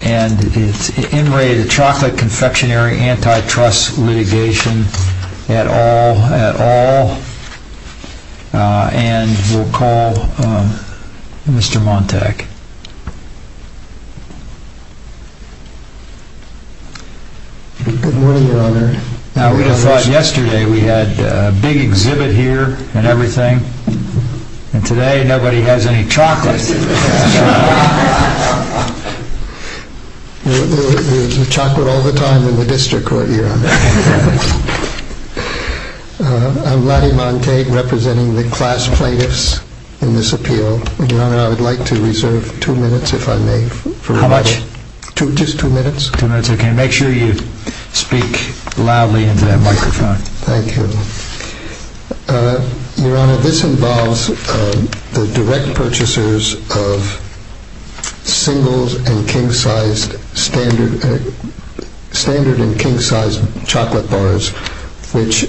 and it's in raid at Chocolate Confectionary Antitrust litigation at all, at all, and we'll call Mr. Montag. Good morning, Governor. Now, we realized yesterday we had a big exhibit here and everything, and today nobody has any chocolate. You eat chocolate all the time in the district court, yeah. I'm Rodney Montag, representing the class plaintiffs in this appeal. Your Honor, I'd like to reserve two minutes, if I may. How much? Just two minutes. Two minutes, okay. Make sure you speak loudly into that microphone. Thank you. Your Honor, this involves the direct purchasers of singles and king-sized, standard and king-sized chocolate bars, which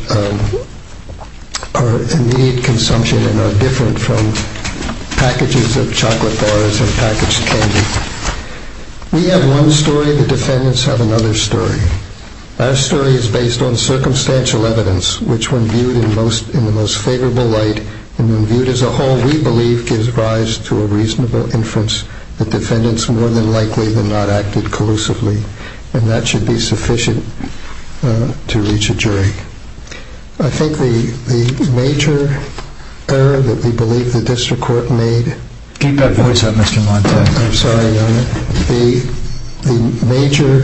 are immediate consumption and are different from packages of chocolate bars and packaged candy. We have one story. The defendants have another story. Our story is based on circumstantial evidence, which when viewed in the most favorable light and when viewed as a whole, we believe gives rise to a reasonable inference that defendants more than likely were not active collusively, and that should be sufficient to reach a jury. I think the major error that we believe the district court made— Keep that voice up, Mr. Montag. I'm sorry, Your Honor. The major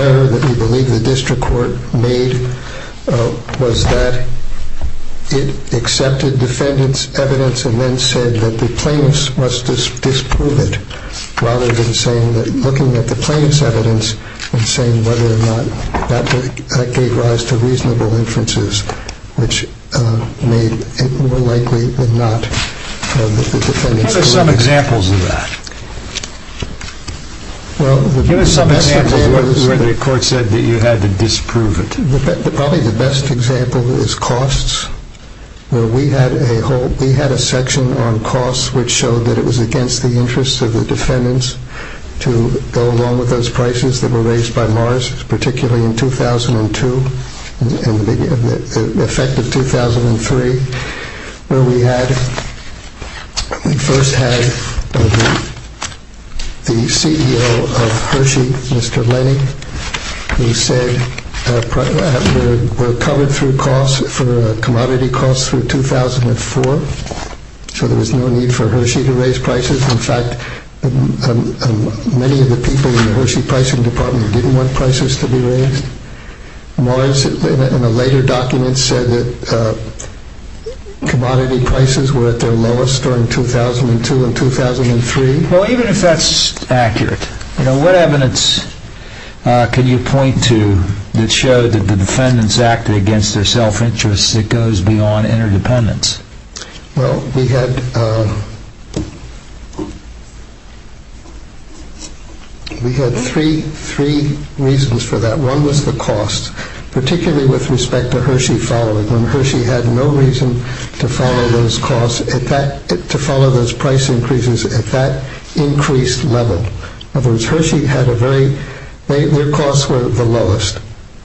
error that we believe the district court made was that it accepted defendants' evidence and then said that the plaintiffs must disprove it rather than looking at the plaintiffs' evidence and saying whether or not that gave rise to reasonable inferences, which made it more likely than not that the defendants were active collusively. Well, there's some examples where the court said that you had to disprove it. Probably the best example is costs, where we had a whole— we had a section on costs which showed that it was against the interests of the defendants to go along with those prices that were raised by Morris, particularly in 2002 and the effect of 2003, where we first had the CEO of Hershey, Mr. Lennie, who said that there were commodity costs for 2004, so there was no need for Hershey to raise prices. In fact, many of the people in the Hershey pricing department didn't want prices to be raised. Morris, in a later document, said that commodity prices were at their lowest during 2002 and 2003. Well, even if that's accurate, what evidence can you point to that showed that the defendants acted against their self-interest that goes beyond interdependence? Well, we had three reasons for that. One was the cost, particularly with respect to Hershey following, when Hershey had no reason to follow those costs— to follow those price increases at that increased level. In other words, Hershey had a very— their costs were the lowest.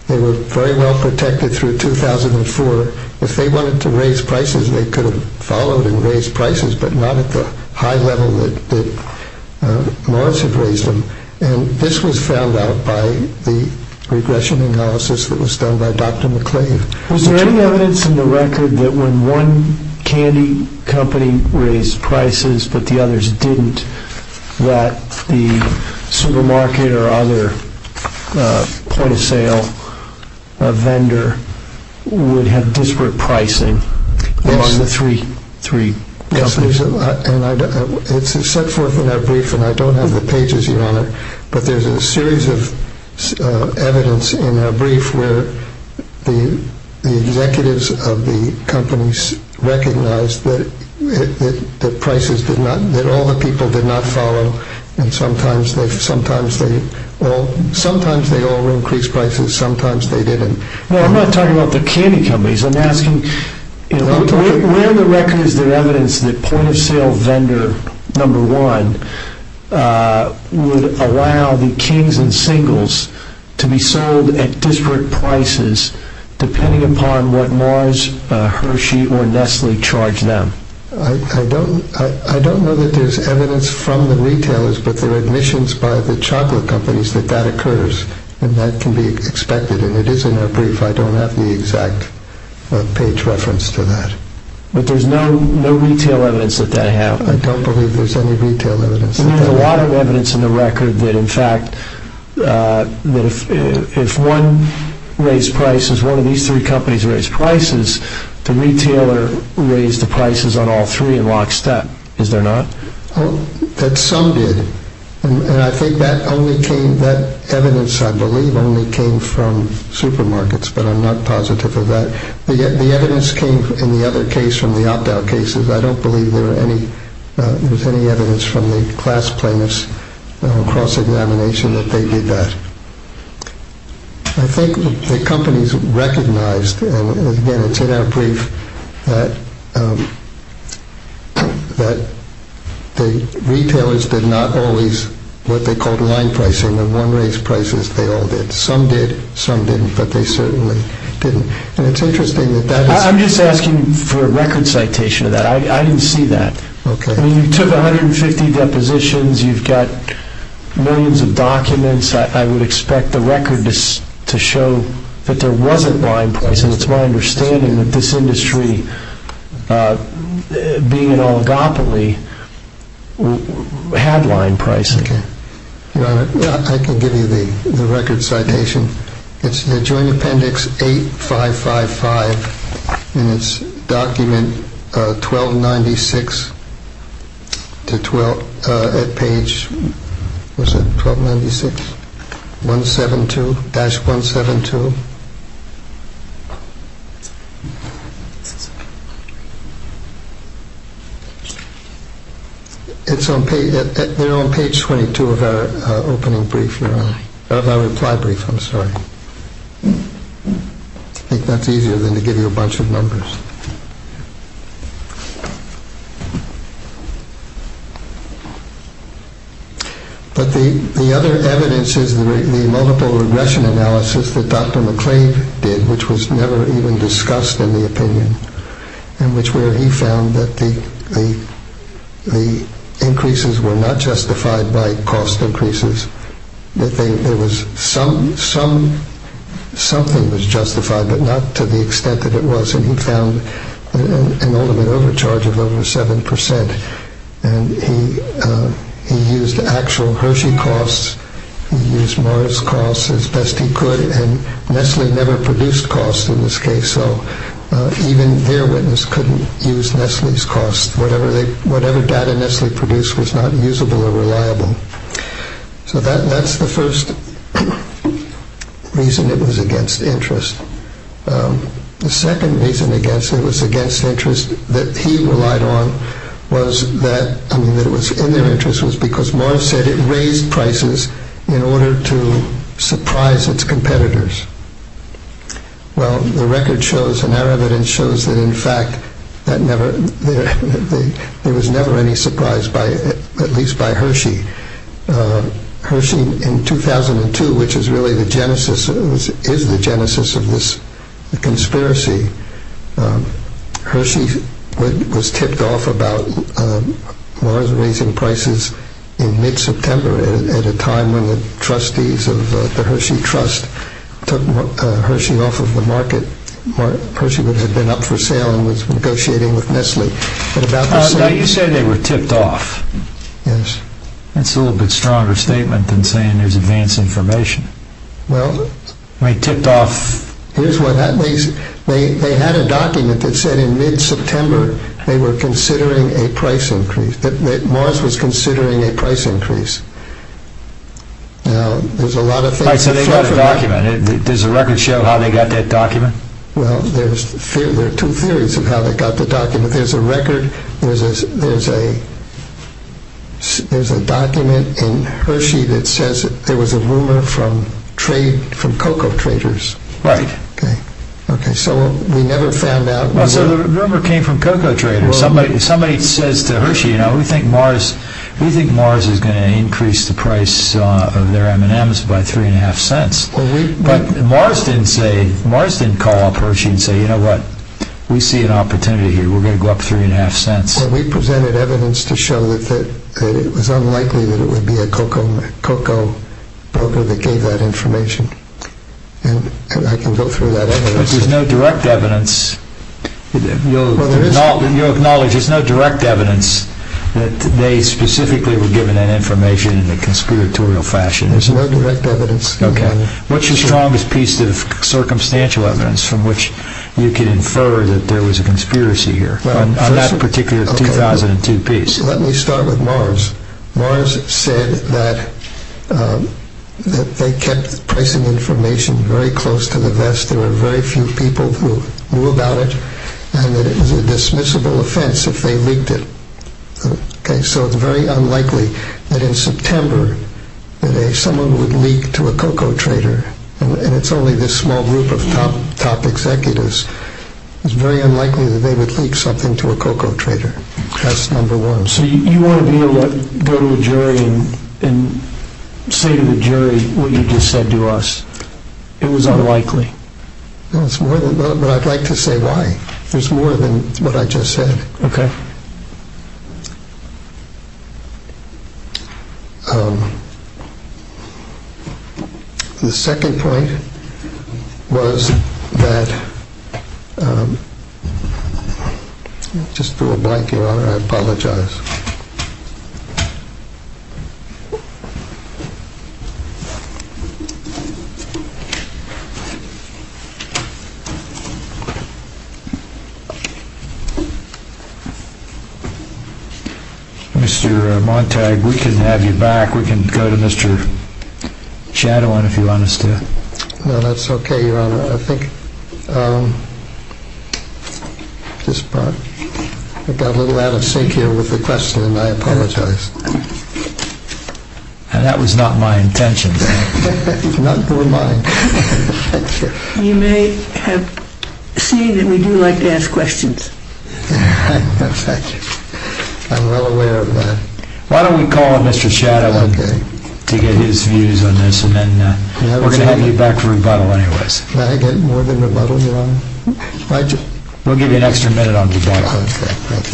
They were very well protected through 2004. If they wanted to raise prices, they could have followed and raised prices, but not at the high level that Morris had raised them. And this was found out by the regression analysis that was done by Dr. MacLean. Was there any evidence in the record that when one candy company raised prices, but the others didn't, that the supermarket or other point-of-sale vendor would have disparate pricing among the three companies? It's set forth in our brief, and I don't have the pages here on it, but there's a series of evidence in our brief where the executives of the companies recognized that all the people did not follow, and sometimes they all increased prices, sometimes they didn't. Well, I'm not talking about the candy companies. Where in the record is there evidence that point-of-sale vendor number one would allow the Kings and Singles to be sold at disparate prices depending upon what Morris, Hershey, or Nestle charged them? I don't know that there's evidence from the retailers, but there are admissions by the chocolate companies that that occurs, and that can be expected. It is in our brief. I don't have the exact page reference to that, but there's no retail evidence that that happened. I don't believe there's any retail evidence. There's a lot of evidence in the record that, in fact, if one raised prices, one of these three companies raised prices, the retailer raised the prices on all three in lockstep. Some did, and I think that evidence, I believe, only came from supermarkets, but I'm not positive of that. The evidence came in the other case from the opt-out cases. I don't believe there's any evidence from the class payments cross-examination that they did that. I think the companies recognized, again, it's in our brief, that the retailers did not always what they called line pricing and the one raised prices, they all did. Some did, some didn't, but they certainly didn't. And it's interesting that that... I'm just asking for a record citation of that. I didn't see that. Okay. I mean, you took 150 depositions. You've got millions of documents. I would expect the record to show that there wasn't line pricing. It's my understanding that this industry, being an oligopoly, had line pricing. Okay. I can give you the record citation. It's the Joint Appendix 8555, and it's document 1296 at page 172-172. It's on page 22 of our reply brief. I think that's easier than to give you a bunch of numbers. But the other evidence is the multiple regression analysis that Dr. even discussed in the opinion, in which where he found that the increases were not justified by cost increases, that something was justified, but not to the extent that it was. And he found an all-in-one charge of over 7%. And he used actual Hershey costs. He used Morris costs as best he could. And Nestle never produced costs in this case, so even their witness couldn't use Nestle's costs. Whatever data Nestle produced was not usable or reliable. So that's the first reason it was against interest. The second reason it was against interest that he relied on was that, I mean, it was in their interest, was because Morris said it raised prices in order to surprise its competitors. Well, the record shows and our evidence shows that, in fact, there was never any surprise, at least by Hershey. Hershey, in 2002, which is really the genesis of this conspiracy, Hershey was ticked off about Morris raising prices in mid-September at a time when the trustees of the Hershey Trust took Hershey off of the market. Hershey had been up for sale and was negotiating with Nestle. How do you say they were ticked off? That's a little bit stronger statement than saying there's advanced information. Well, they had a document that said in mid-September they were considering a price increase, that Morris was considering a price increase. Now, there's a lot of things that show that. Does the record show how they got that document? Well, there are two theories of how they got the document. There's a record, there's a document in Hershey that says there was a rumor from cocoa traders. Right. Okay, so we never found out. So the rumor came from cocoa traders. Somebody says to Hershey, you know, we think Morris is going to increase the price of their M&Ms by three and a half cents. But Morris didn't say, Morris didn't call up Hershey and say, you know what? We see an opportunity here. We're going to go up three and a half cents. Well, we presented evidence to show that it was unlikely that it would be a cocoa broker that gave that information. And I can go through that. But there's no direct evidence. You'll acknowledge there's no direct evidence that they specifically were given that information in a conspiratorial fashion. There's no direct evidence. Okay. What's your strongest piece of circumstantial evidence from which you can infer that there was a conspiracy here? On that particular 2002 piece. Let me start with Morris. Morris said that they kept the information very close to the vest. There were very few people who knew about it. And it was a dismissible offense if they leaked it. So it's very unlikely that in September that someone would leak to a cocoa trader. And it's only this small group of top executives. It's very unlikely that they would leak something to a cocoa trader. That's number one. So you want to go to the jury and say to the jury what you just said to us. It was unlikely. I'd like to say why. There's more than what I just said. Okay. The second point was that – let me just put a blanket on. I apologize. Mr. Montag, we can have you back. We can go to Mr. Chatelain if you want us to. No, that's okay, Your Honor. I think I got a little out of sync here with the question, and I apologize. And that was not my intention, did it? That was not my intention. You may have seen that we do like to ask questions. I'm well aware of that. Why don't we call Mr. Chatelain to get his views on this, and then we're going to have you back for rebuttal anyways. Can I get more than rebuttal, Your Honor? We'll give you an extra minute on rebuttal. Okay. Thank you.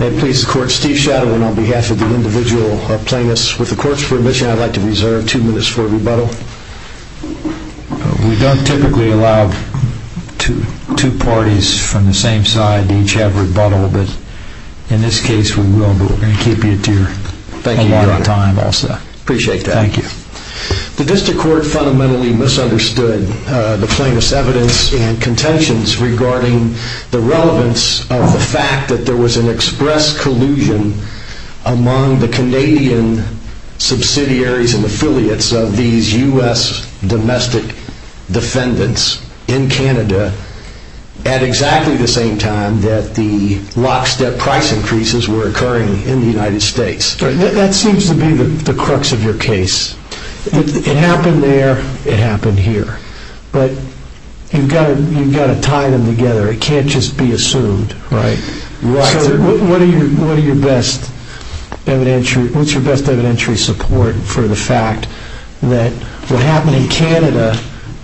May it please the Court, Steve Chatelain on behalf of the individual obtainists. With the Court's permission, I'd like to reserve two minutes for rebuttal. We don't typically allow two parties from the same side to each have rebuttal, but in this case we will, but we're going to give you a lot of time also. Thank you, Your Honor. Appreciate that. Thank you. The District Court fundamentally misunderstood the famous evidence in contentions regarding the relevance of the fact that there was an express collusion among the Canadian subsidiaries and affiliates of these U.S. domestic defendants in Canada at exactly the same time that the lockstep price increases were occurring in the United States. That seems to be the crux of your case. It happened there. It happened here. But you've got to tie them together. It can't just be assumed. Right. What's your best evidentiary support for the fact that what happened in Canada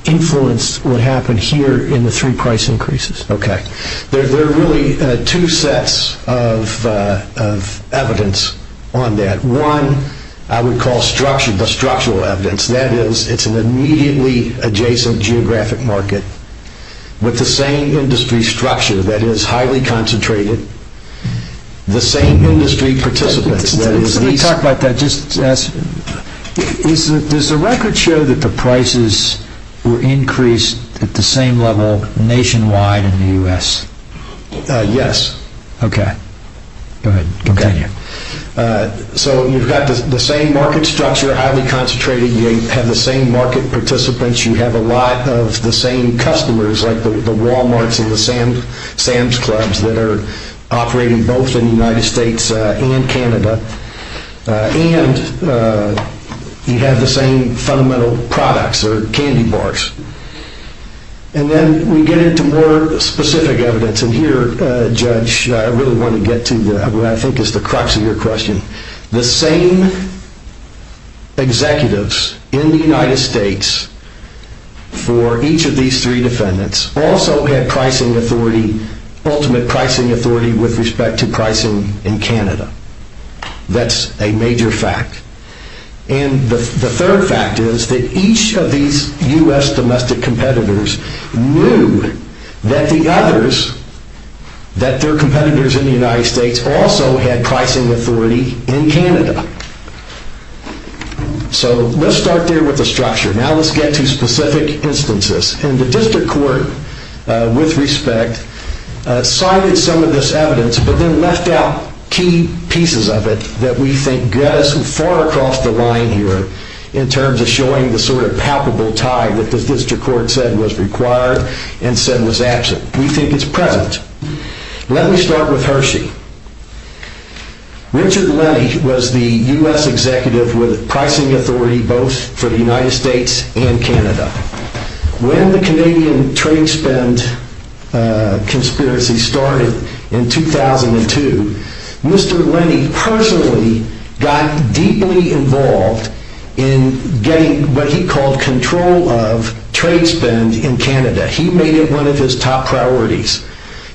influenced what happened here in the three price increases? Okay. There are really two sets of evidence on that. One I would call structural evidence. That is, it's an immediately adjacent geographic market with the same industry structure that is highly concentrated, the same industry participants. Let me talk about that. Does the record show that the prices were increased at the same level nationwide in the U.S.? Okay. Go ahead. Thank you. So you've got the same market structure, highly concentrated. You have the same market participants. You have a lot of the same customers like the Walmarts and the Sam's Clubs that are operating both in the United States and Canada. And you have the same fundamental products or candy bars. And then we get into more specific evidence. And here, Judge, I really want to get to what I think is the crux of your question. The same executives in the United States for each of these three defendants also had pricing authority, ultimate pricing authority, with respect to pricing in Canada. That's a major fact. And the third fact is that each of these U.S. domestic competitors knew that the others, that their competitors in the United States, also had pricing authority in Canada. So let's start there with the structure. Now let's get to specific instances. And the district court, with respect, cited some of this evidence but then left out key pieces of it that we think goes far across the line here in terms of showing the sort of palpable tie that the district court said was required and said was absent. We think it's present. Let me start with Hershey. Richard Lennie was the U.S. executive with pricing authority both for the United States and Canada. When the Canadian trade spend conspiracy started in 2002, Mr. Lennie personally got deeply involved in getting what he called control of trade spend in Canada. He made it one of his top priorities.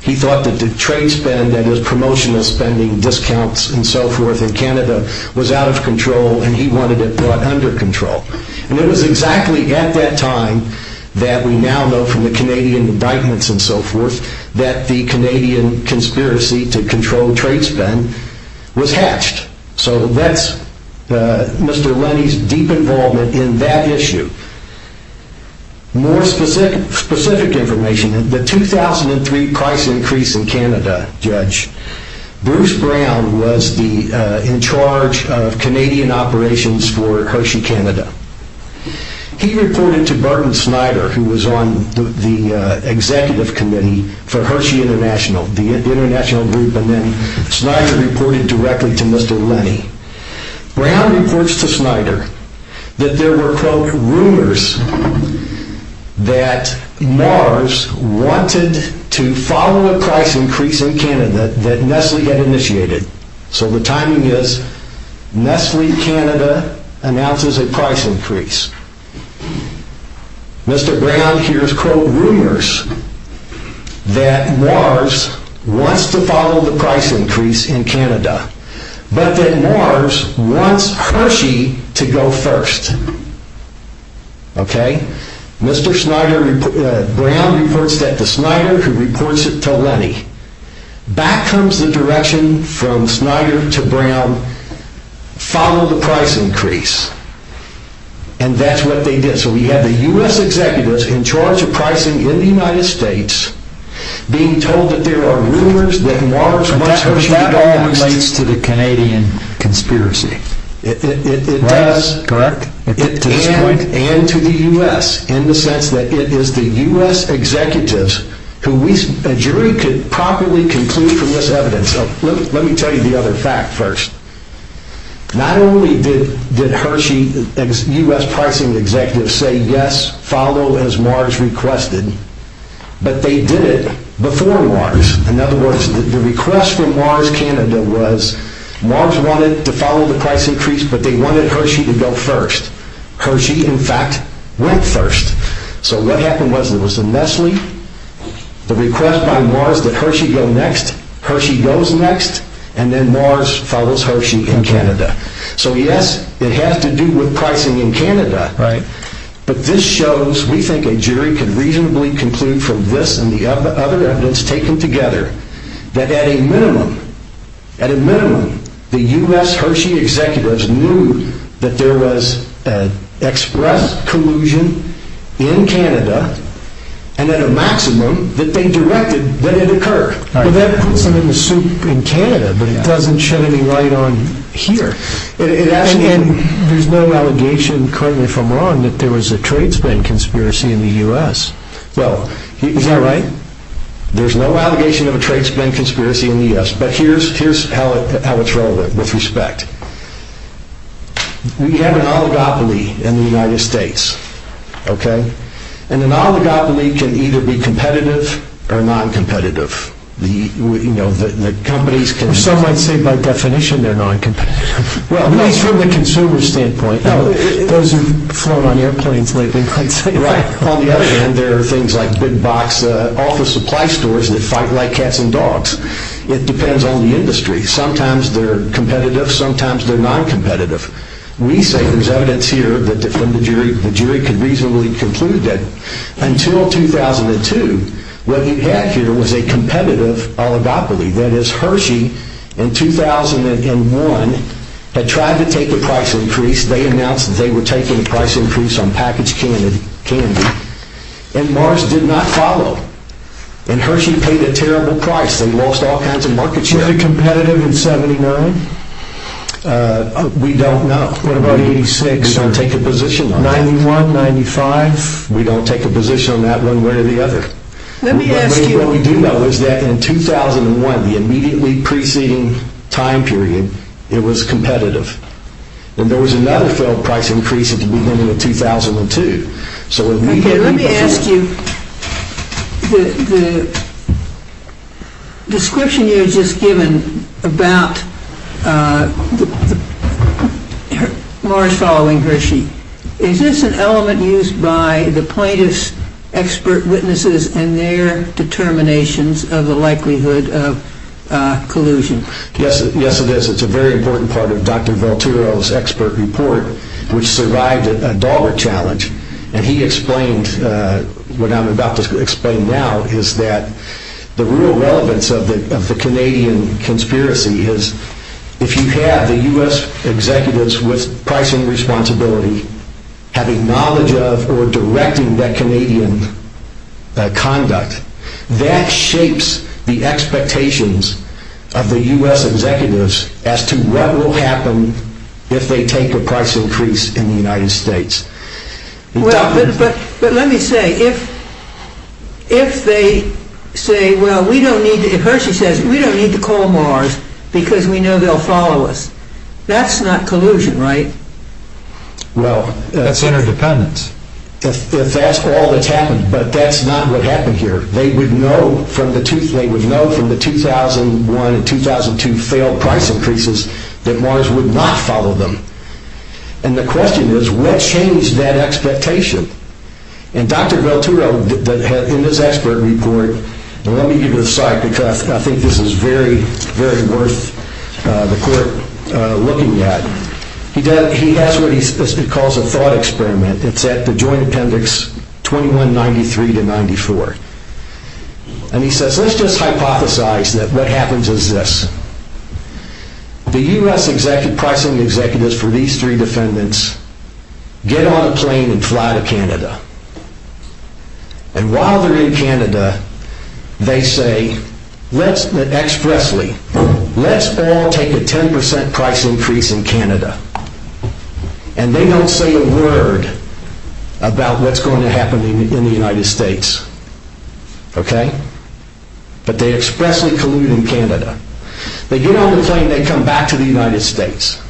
He thought that the trade spend and his promotional spending, discounts and so forth in Canada, was out of control, and he wanted it brought under control. And it was exactly at that time that we now know from the Canadian indictments and so forth that the Canadian conspiracy to control trade spend was hatched. So that's Mr. Lennie's deep involvement in that issue. More specific information, the 2003 price increase in Canada, Judge, Bruce Brown was in charge of Canadian operations for Hershey Canada. He reported to Barton Snyder, who was on the executive committee for Hershey International, the international group, and then Snyder reported directly to Mr. Lennie. Brown reports to Snyder that there were, quote, rumors that Mars wanted to follow a price increase in Canada that Nestle had initiated. So the timing is, Nestle Canada announces a price increase. Mr. Brown hears, quote, rumors that Mars wants to follow the price increase in Canada, but that Mars wants Hershey to go first. Okay? Mr. Brown reports that to Snyder, who reports it to Lennie. Back comes the direction from Snyder to Brown, follow the price increase. And that's what they did. So we have the U.S. executives in charge of pricing in the United States being told that there are rumors that Mars wants Hershey to go first. So that's what that all relates to, the Canadian conspiracy. It does. Correct? And to the U.S., in the sense that it is the U.S. executives who we— a jury could properly conclude from this evidence. Let me tell you the other fact first. Not only did Hershey, U.S. pricing executives, say, yes, follow as Mars requested, but they did it before Mars. In other words, the request from Mars Canada was, Mars wanted to follow the price increase, but they wanted Hershey to go first. Hershey, in fact, went first. So what happened was there was a mess leak, the request by Mars that Hershey go next, Hershey goes next, and then Mars follows Hershey in Canada. So yes, it has to do with pricing in Canada. Right. But this shows, we think a jury can reasonably conclude from this and the other evidence taken together, that at a minimum, at a minimum, the U.S. Hershey executives knew that there was an express collusion in Canada, and at a maximum, that they directed that it occur. And that puts them in a soup in Canada, but it doesn't shed any light on here. And there's no allegation currently from Ron that there was a trades bank conspiracy in the U.S. Well, is that right? There's no allegation of a trades bank conspiracy in the U.S., but here's how it's rolled with respect. We have an oligopoly in the United States, okay? And an oligopoly can either be competitive or non-competitive. The companies can... Some might say by definition they're non-competitive. Well, from a consumer standpoint, those of you who float on airplanes lately might say that. On the other hand, there are things like Big Box, all the supply stores that fight like cats and dogs. It depends on the industry. Sometimes they're competitive, sometimes they're non-competitive. We think there's evidence here that the jury could reasonably conclude that until 2002, what we had here was a competitive oligopoly. That is, Hershey, in 2001, had tried to take the price increase. They announced that they were taking a price increase on packaged candy. And Mars did not follow. And Hershey paid a terrible price. They lost all kinds of markets. Were they competitive in 79? We don't know. What about 86? We don't take a position on that. 91, 95? We don't take a position on that one way or the other. What we do know is that in 2001, the immediately preceding time period, it was competitive. And there was another failed price increase at the beginning of 2002. Let me ask you, the description you had just given about Mars following Hershey, is this an element used by the plaintiff's expert witnesses and their determinations of the likelihood of collusion? Yes, it is. It's a very important part of Dr. Velturo's expert report, which survived a dollar challenge. And he explained what I'm about to explain now, is that the real relevance of the Canadian conspiracy is if you have the U.S. executives with pricing responsibility having knowledge of or directing that Canadian conduct, that shapes the expectations of the U.S. executives as to what will happen if they take a price increase in the United States. But let me say, if they say, well, we don't need to, if Hershey says, we don't need to call Mars because we know they'll follow us, that's not collusion, right? Well, that's interdependence. That's all that happens, but that's not what happened here. They would know from the 2001 and 2002 failed price increases that Mars would not follow them. And the question is, what changed that expectation? And Dr. Velturo, in his expert report, let me give you a side, because I think this is very, very worth the court looking at. He has what he calls a thought experiment. It's at the joint appendix 2193-94. And he says, let's just hypothesize that what happens is this. The U.S. pricing executives for these three defendants get on a plane and fly to Canada. And while they're in Canada, they say, expressly, let's all take a 10% price increase in Canada. And they don't say a word about what's going to happen in the United States. Okay? But they expressly collude in Canada. They get on the plane, they come back to the United States.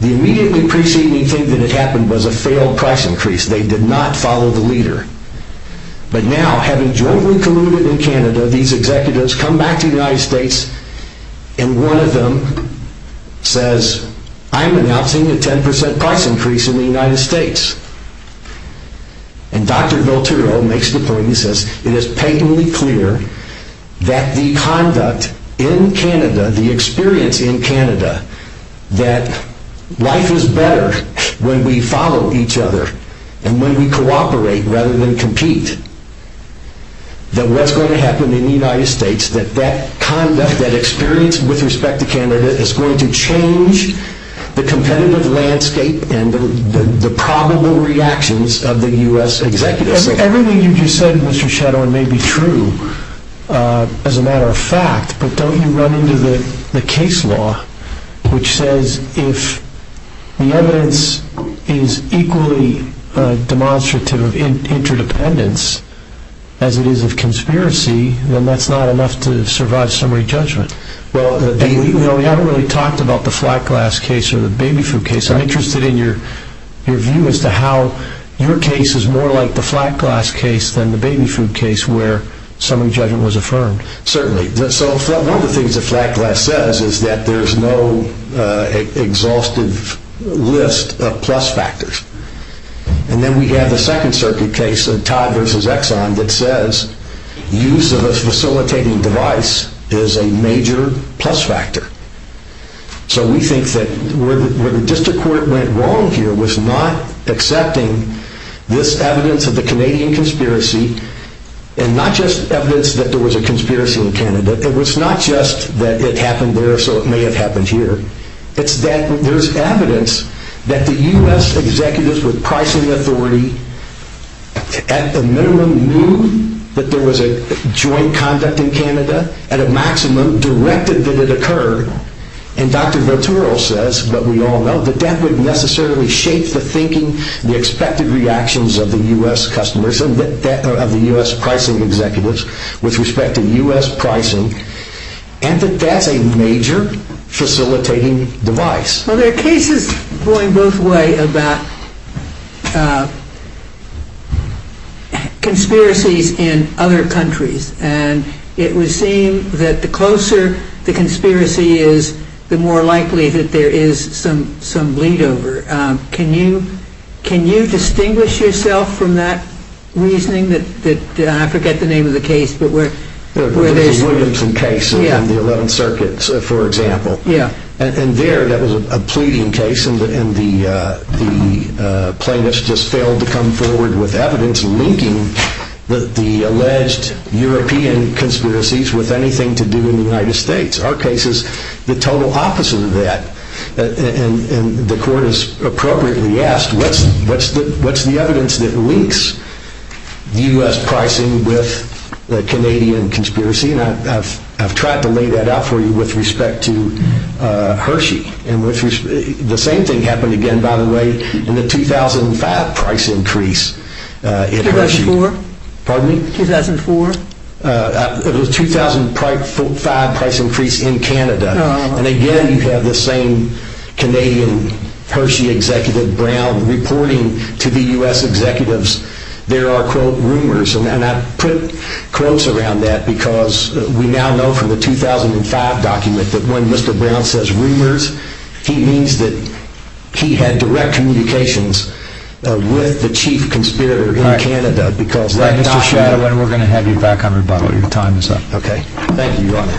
The immediately preceding thing that had happened was a failed price increase. They did not follow the leader. But now, having jointly colluded in Canada, these executives come back to the United States, and one of them says, I'm announcing a 10% price increase in the United States. And Dr. Velturo makes the point, he says, it is patently clear that the conduct in Canada, the experience in Canada, that life is better when we follow each other than what's going to happen in the United States, that that conduct, that experience with respect to Canada is going to change the competitive landscape and the probable reactions of the U.S. executives. Everything you just said, Mr. Shadower, may be true as a matter of fact, but don't you run into the case law which says if the evidence is equally demonstrative of interdependence, as it is of conspiracy, then that's not enough to survive summary judgment? Well, we haven't really talked about the flat glass case or the baby food case. I'm interested in your view as to how your case is more like the flat glass case than the baby food case where summary judgment was affirmed. Certainly. So one of the things that flat glass says is that there's no exhaustive list of plus factors. And then we have the second circuit case of Todd versus Exxon that says use of a facilitating device is a major plus factor. So we think that where the district court went wrong here was not accepting this evidence of the Canadian conspiracy and not just evidence that there was a conspiracy in Canada. It was not just that it happened there so it may have happened here. There's evidence that the U.S. executives with pricing authority at the minimum knew that there was a joint conduct in Canada. At a maximum, directed that it occurred. And Dr. Bertoureau says, but we all know, that that wouldn't necessarily shape the thinking, the expected reactions of the U.S. customers, of the U.S. pricing executives with respect to U.S. pricing, and that that's a major facilitating device. There are cases going both ways about conspiracies in other countries. And it would seem that the closer the conspiracy is, the more likely that there is some lead over. Can you distinguish yourself from that reasoning? I forget the name of the case. The Williamson case in the 11th Circuit, for example. And there, that was a pleading case, and the plaintiffs just failed to come forward with evidence linking the alleged European conspiracies with anything to do with the United States. Our case is the total opposite of that. And the court has appropriately asked, what's the evidence that links U.S. pricing with the Canadian conspiracy? And I've tried to lay that out for you with respect to Hershey. The same thing happened again, by the way, in the 2005 price increase in Hershey. 2004? Pardon me? 2004? The 2005 price increase in Canada. And again, you have the same Canadian Hershey executive, Brown, reporting to the U.S. executives. There are, quote, rumors. And I put quotes around that because we now know from the 2005 document that when Mr. Brown says rumors, he means that he had direct communications with the chief conspirator in Canada. Mr. Shadwell, we're going to have you back on rebuttal. Your time is up. Okay. Thank you, Your Honor.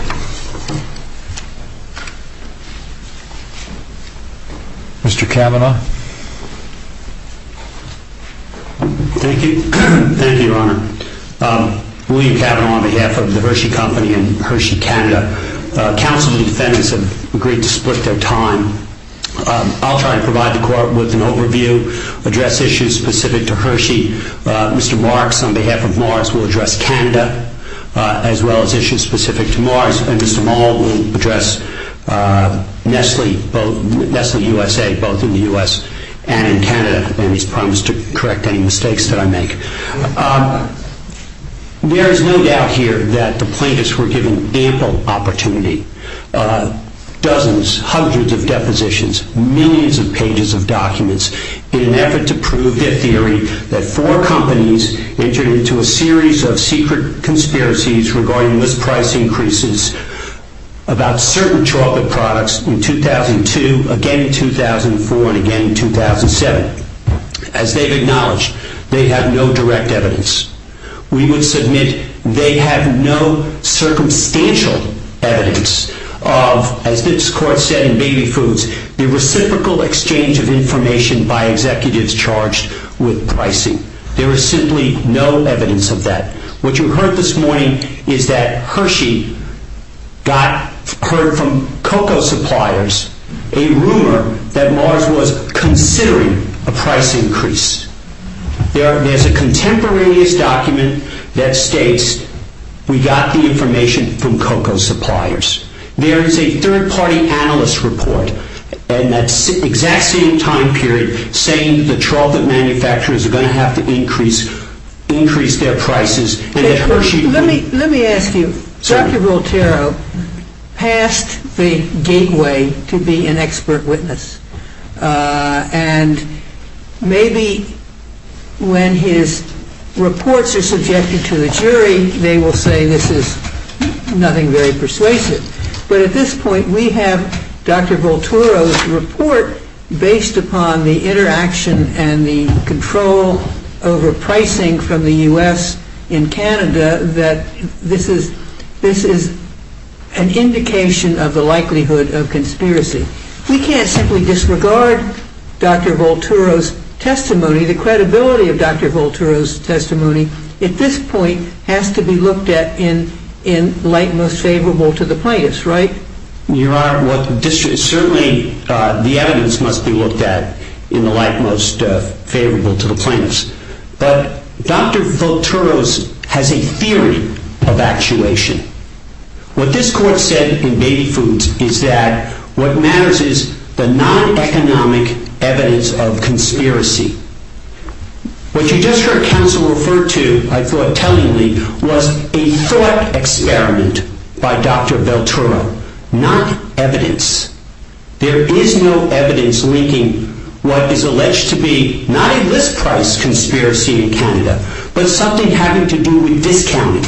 Mr. Cavanaugh. Thank you, Your Honor. We've had it on behalf of the Hershey Company and Hershey Canada. Counsel and defendants have agreed to split their time. I'll try to provide the court with an overview, address issues specific to Hershey. Mr. Marks, on behalf of Morris, will address Canada, as well as issues specific to Morris. And Mr. Mall will address Nestle USA, both in the U.S. and in Canada. And he's promised to correct any mistakes that I make. There is no doubt here that the plaintiffs were given ample opportunity, dozens, hundreds of depositions, millions of pages of documents, in an effort to prove their theory that four companies entered into a series of secret conspiracies regarding misprice increases about certain childhood products in 2002, again in 2004, and again in 2007. As they've acknowledged, they have no direct evidence. We would submit they have no circumstantial evidence of, as this court said in Baby Foods, the reciprocal exchange of information by executives charged with pricing. There is simply no evidence of that. What you heard this morning is that Hershey got, heard from cocoa suppliers, a rumor that Morris was considering a price increase. There's a contemporaneous document that states we got the information from cocoa suppliers. There is a third-party analyst report, and that's the exact same time period, saying the chocolate manufacturers are going to have to increase their prices. Let me ask you. Dr. Volterro passed a gateway to be an expert witness. And maybe when his reports are suggested to the jury, they will say this is nothing very persuasive. But at this point, we have Dr. Volterro's report, based upon the interaction and the control over pricing from the U.S. in Canada, that this is an indication of the likelihood of conspiracy. We can't simply disregard Dr. Volterro's testimony. The credibility of Dr. Volterro's testimony, at this point, has to be looked at in light most favorable to the plaintiffs, right? Your Honor, certainly the evidence must be looked at in the light most favorable to the plaintiffs. But Dr. Volterro has a theory of actuation. What this court said in Baby Foods is that what matters is the non-economic evidence of conspiracy. What you just heard counsel refer to, I thought, tellingly, was a thought experiment by Dr. Volterro, not evidence. There is no evidence linking what is alleged to be not a less-priced conspiracy in Canada, but something having to do with discounting.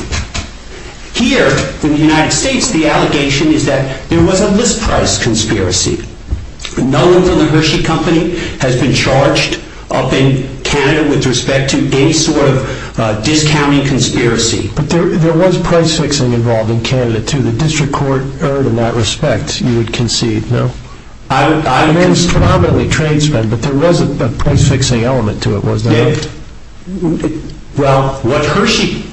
Here, in the United States, the allegation is that there was a less-priced conspiracy. None of the grocery company has been charged up in Canada with respect to any sort of discounting conspiracy. But there was price-fixing involved in Canada, too. The district court heard in that respect, you would concede, no? It was probably trade spend, but there was a price-fixing element to it, wasn't there? Well, what Hershey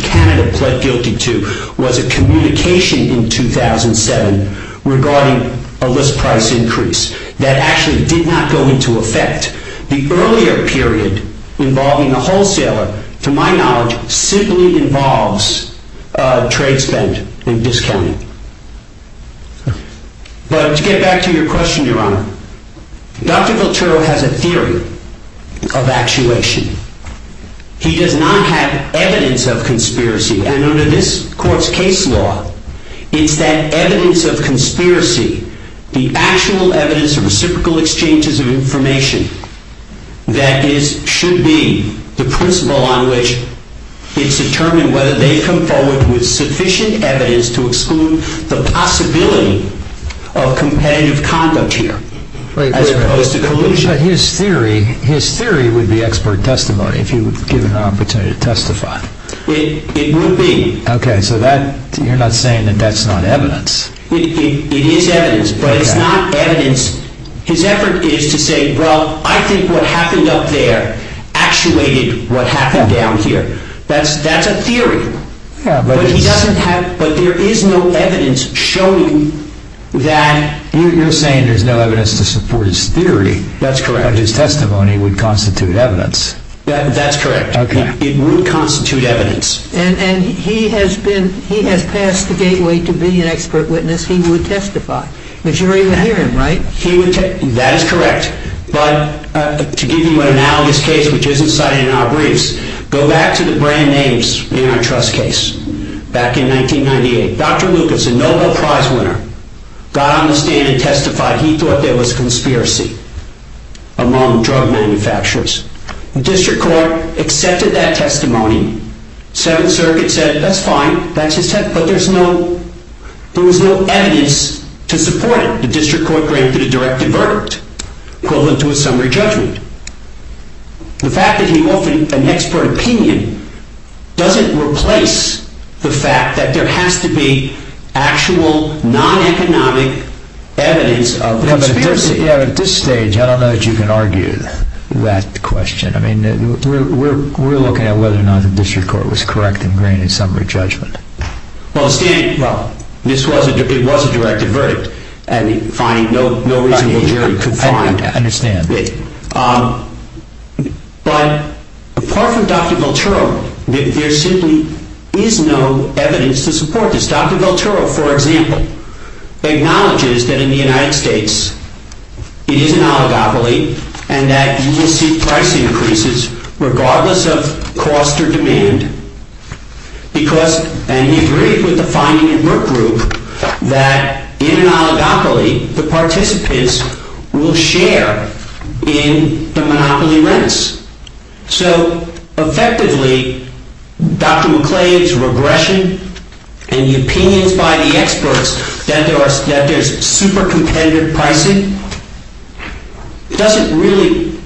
Canada pled guilty to was a communication in 2007 regarding a less-priced increase. That actually did not go into effect. The earlier period involving a wholesaler, to my knowledge, simply involves trade spend and discounting. But to get back to your question, Your Honor, Dr. Volterro has a theory of actuation. He does not have evidence of conspiracy. And under this court's case law, it's that evidence of conspiracy, the actual evidence of reciprocal exchanges of information, that should be the principle on which it's determined whether they come forward with sufficient evidence to exclude the possibility of competitive conduct here, as opposed to collusion. But his theory would be expert testimony, if you were given the opportunity to testify. It would be. Okay, so you're not saying that that's not evidence? It is evidence, but it's not evidence. His effort is to say, well, I think what happened up there actuated what happened down here. That's a theory. But he doesn't have, but there is no evidence showing that... You're saying there's no evidence to support his theory. That's correct. But his testimony would constitute evidence. That's correct. It would constitute evidence. And he has passed the gateway to being an expert witness. He would testify, which you're even hearing, right? That is correct. But to give you an analogous case which isn't cited in our briefs, go back to the Brandeis Antitrust case back in 1998. Dr. Wilkinson, Nobel Prize winner, got on the stand and testified. He thought there was conspiracy among drug manufacturers. The district court accepted that testimony. Seven circuits said, that's fine. That's accepted. But there was no evidence to support it. The district court granted a directed verdict, equivalent to a summary judgment. The fact that he opened an expert opinion doesn't replace the fact that there has to be actual, non-economic evidence of conspiracy. At this stage, I don't know that you can argue that question. I mean, we're looking at whether or not the district court was correct in granting a summary judgment. Well, it was a directed verdict. And, fine, nobody is very competent to understand it. But, apart from Dr. Velturo, there simply is no evidence to support this. Dr. Velturo, for example, acknowledges that in the United States, he's in an oligopoly and that ESG price increases regardless of cost or demand. And he agreed with the finding in Merck Group that in an oligopoly, the participants will share in the monopoly rents. So, effectively, Dr. McClain's regression and the opinions by the experts that there's super-competitive pricing doesn't really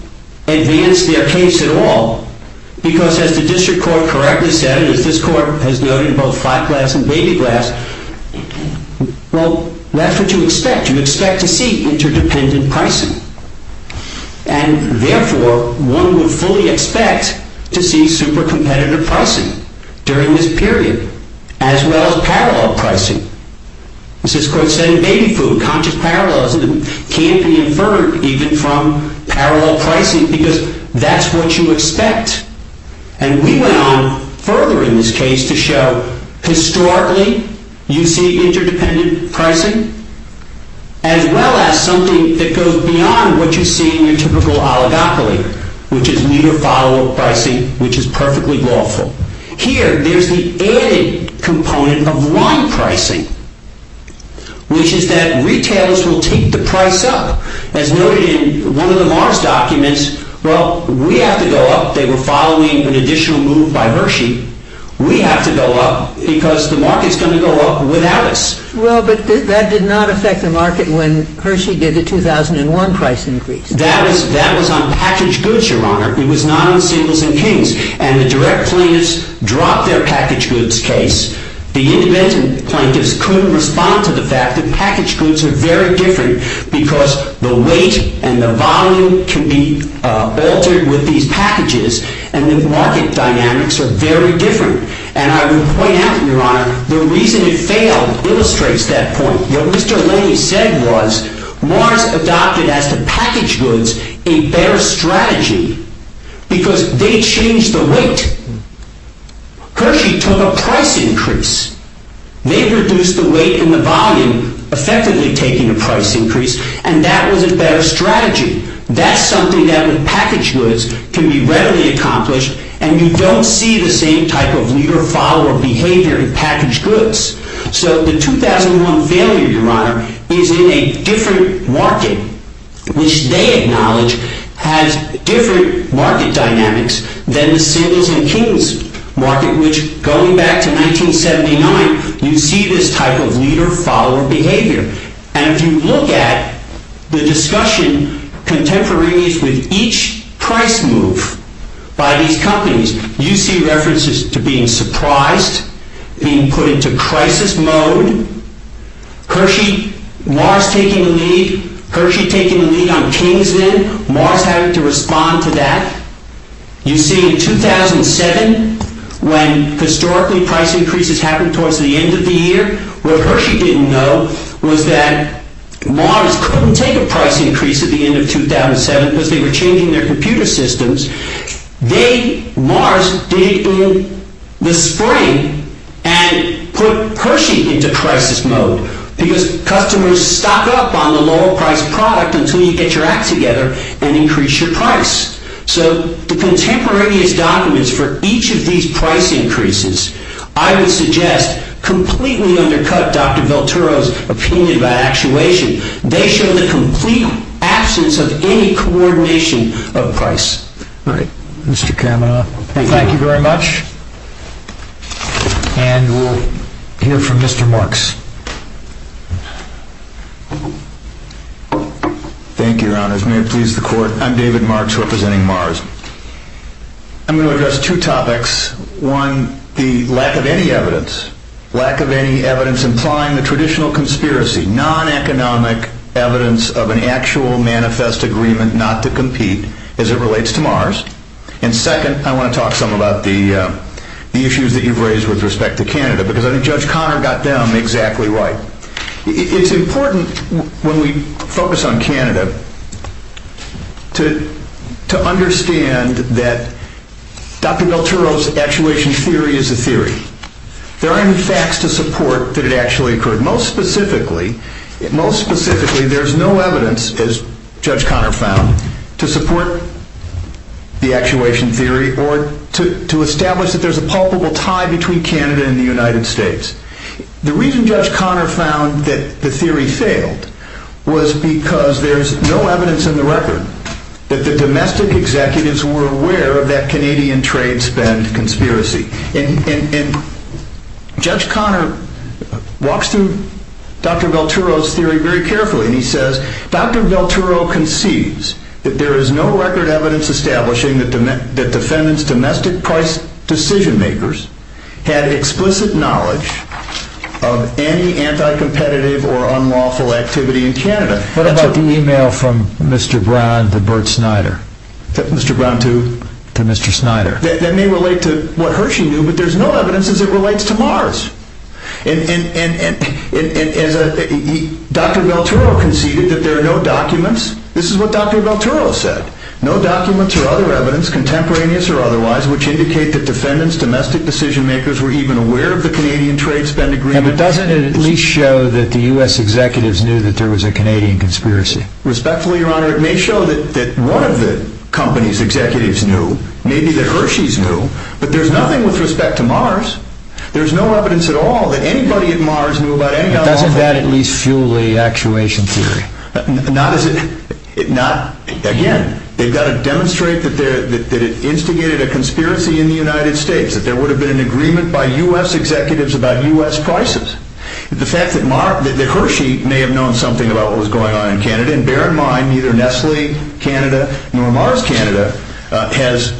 advance their case at all. Because, as the district court correctly said, and as this court has noted in both FACWAS and DATAGLASS, well, that's what you expect. You expect to see interdependent pricing. And, therefore, one would fully expect to see super-competitive pricing during this period, as well as parallel pricing. This is, of course, then made for conscious parallels that can't be inferred even from parallel pricing, because that's what you expect. And we went on further in this case to show, historically, you see interdependent pricing as well as something that goes beyond what you see in your typical oligopoly, which is meet-or-follow pricing, which is perfectly lawful. Here, there's the added component of one pricing, which is that retailers will take the price up. As noted in one of the Mars documents, well, we have to go up. They were following an additional move by Hershey. We have to go up, because the market's going to go up without us. Well, but that did not affect the market when Hershey did the 2001 price increase. That was on packaged goods, Your Honor. It was not on singles and kings. And the direct plaintiffs dropped their packaged goods case. The independent plaintiffs couldn't respond to the fact that packaged goods are very different, because the weight and the volume to be altered with these packages and with market dynamics are very different. And I would point out, Your Honor, the reason it failed illustrates that point. What Mr. Lilly said was, Mars adopted as a packaged goods a better strategy, because they changed the weight. Hershey took a price increase. They reduced the weight and the volume, effectively taking a price increase, and that was a better strategy. That's something that in packaged goods can be readily accomplished, and you don't see the same type of leader-follower behavior in packaged goods. So the 2001 failure, Your Honor, is in a different market, which they acknowledge has different market dynamics than the singles and kings market, which, going back to 1979, you see this type of leader-follower behavior. And you look at the discussion contemporaries with each price move by these companies. You see references to being surprised, being put into crisis mode. Hershey, Mars taking the lead, Hershey taking the lead on the changes in it, Mars having to respond to that. You see in 2007, when historically price increases happened towards the end of the year, what Hershey didn't know was that Mars couldn't take a price increase at the end of 2007, because they were changing their computer systems. They, Mars, did it in the spring and put Hershey into crisis mode because customers stock up on the lower-priced product until you get your act together and increase your price. So the contemporaries' documents for each of these price increases, I would suggest, completely undercut Dr. Velturo's opinion about actuation. They show the complete absence of any coordination of price. Great. Mr. Kahn. Thank you very much. And we'll hear from Mr. Marks. Thank you, Your Honor. May it please the Court, I'm David Marks, representing Mars. I'm going to address two topics. One, the lack of any evidence. Lack of any evidence implying the traditional conspiracy, non-economic evidence of an actual manifest agreement not to compete as it relates to Mars. And second, I want to talk some about the issues that you've raised with respect to Canada, because Judge Connor got them exactly right. It's important, when we focus on Canada, to understand that Dr. Velturo's actuation theory is a theory. There are no facts to support that it actually occurred. Most specifically, there's no evidence, as Judge Connor found, to support the actuation theory or to establish that there's a palpable tie between Canada and the United States. The reason Judge Connor found that the theory failed was because there's no evidence in the record that the domestic executives were aware of that Canadian trade spend conspiracy. And Judge Connor walks through Dr. Velturo's theory very carefully, and he says, Dr. Velturo concedes that there is no record evidence establishing that the defendant's domestic price decision makers had explicit knowledge of any anti-competitive or unlawful activity in Canada. What about the email from Mr. Braun to Bert Snyder? Mr. Braun to? To Mr. Snyder. That may relate to what Hershey knew, but there's no evidence that it relates to Mars. And Dr. Velturo conceded that there are no documents. This is what Dr. Velturo said. No documents or other evidence, contemporaneous or otherwise, which indicate that defendants' domestic decision makers were even aware of the Canadian trade spend agreement. And it doesn't at least show that the U.S. executives knew that there was a Canadian conspiracy. Respectfully, Your Honor, it may show that one of the company's executives knew. Maybe that Hershey's knew. But there's nothing with respect to Mars. There's no evidence at all that anybody at Mars knew about any other country. Doesn't that at least fuel the actuation theory? Again, they've got to demonstrate that it instigated a conspiracy in the United States, that there would have been an agreement by U.S. executives about U.S. prices. The fact that Hershey may have known something about what was going on in Canada, and bear in mind either Nestle Canada or Mars Canada, has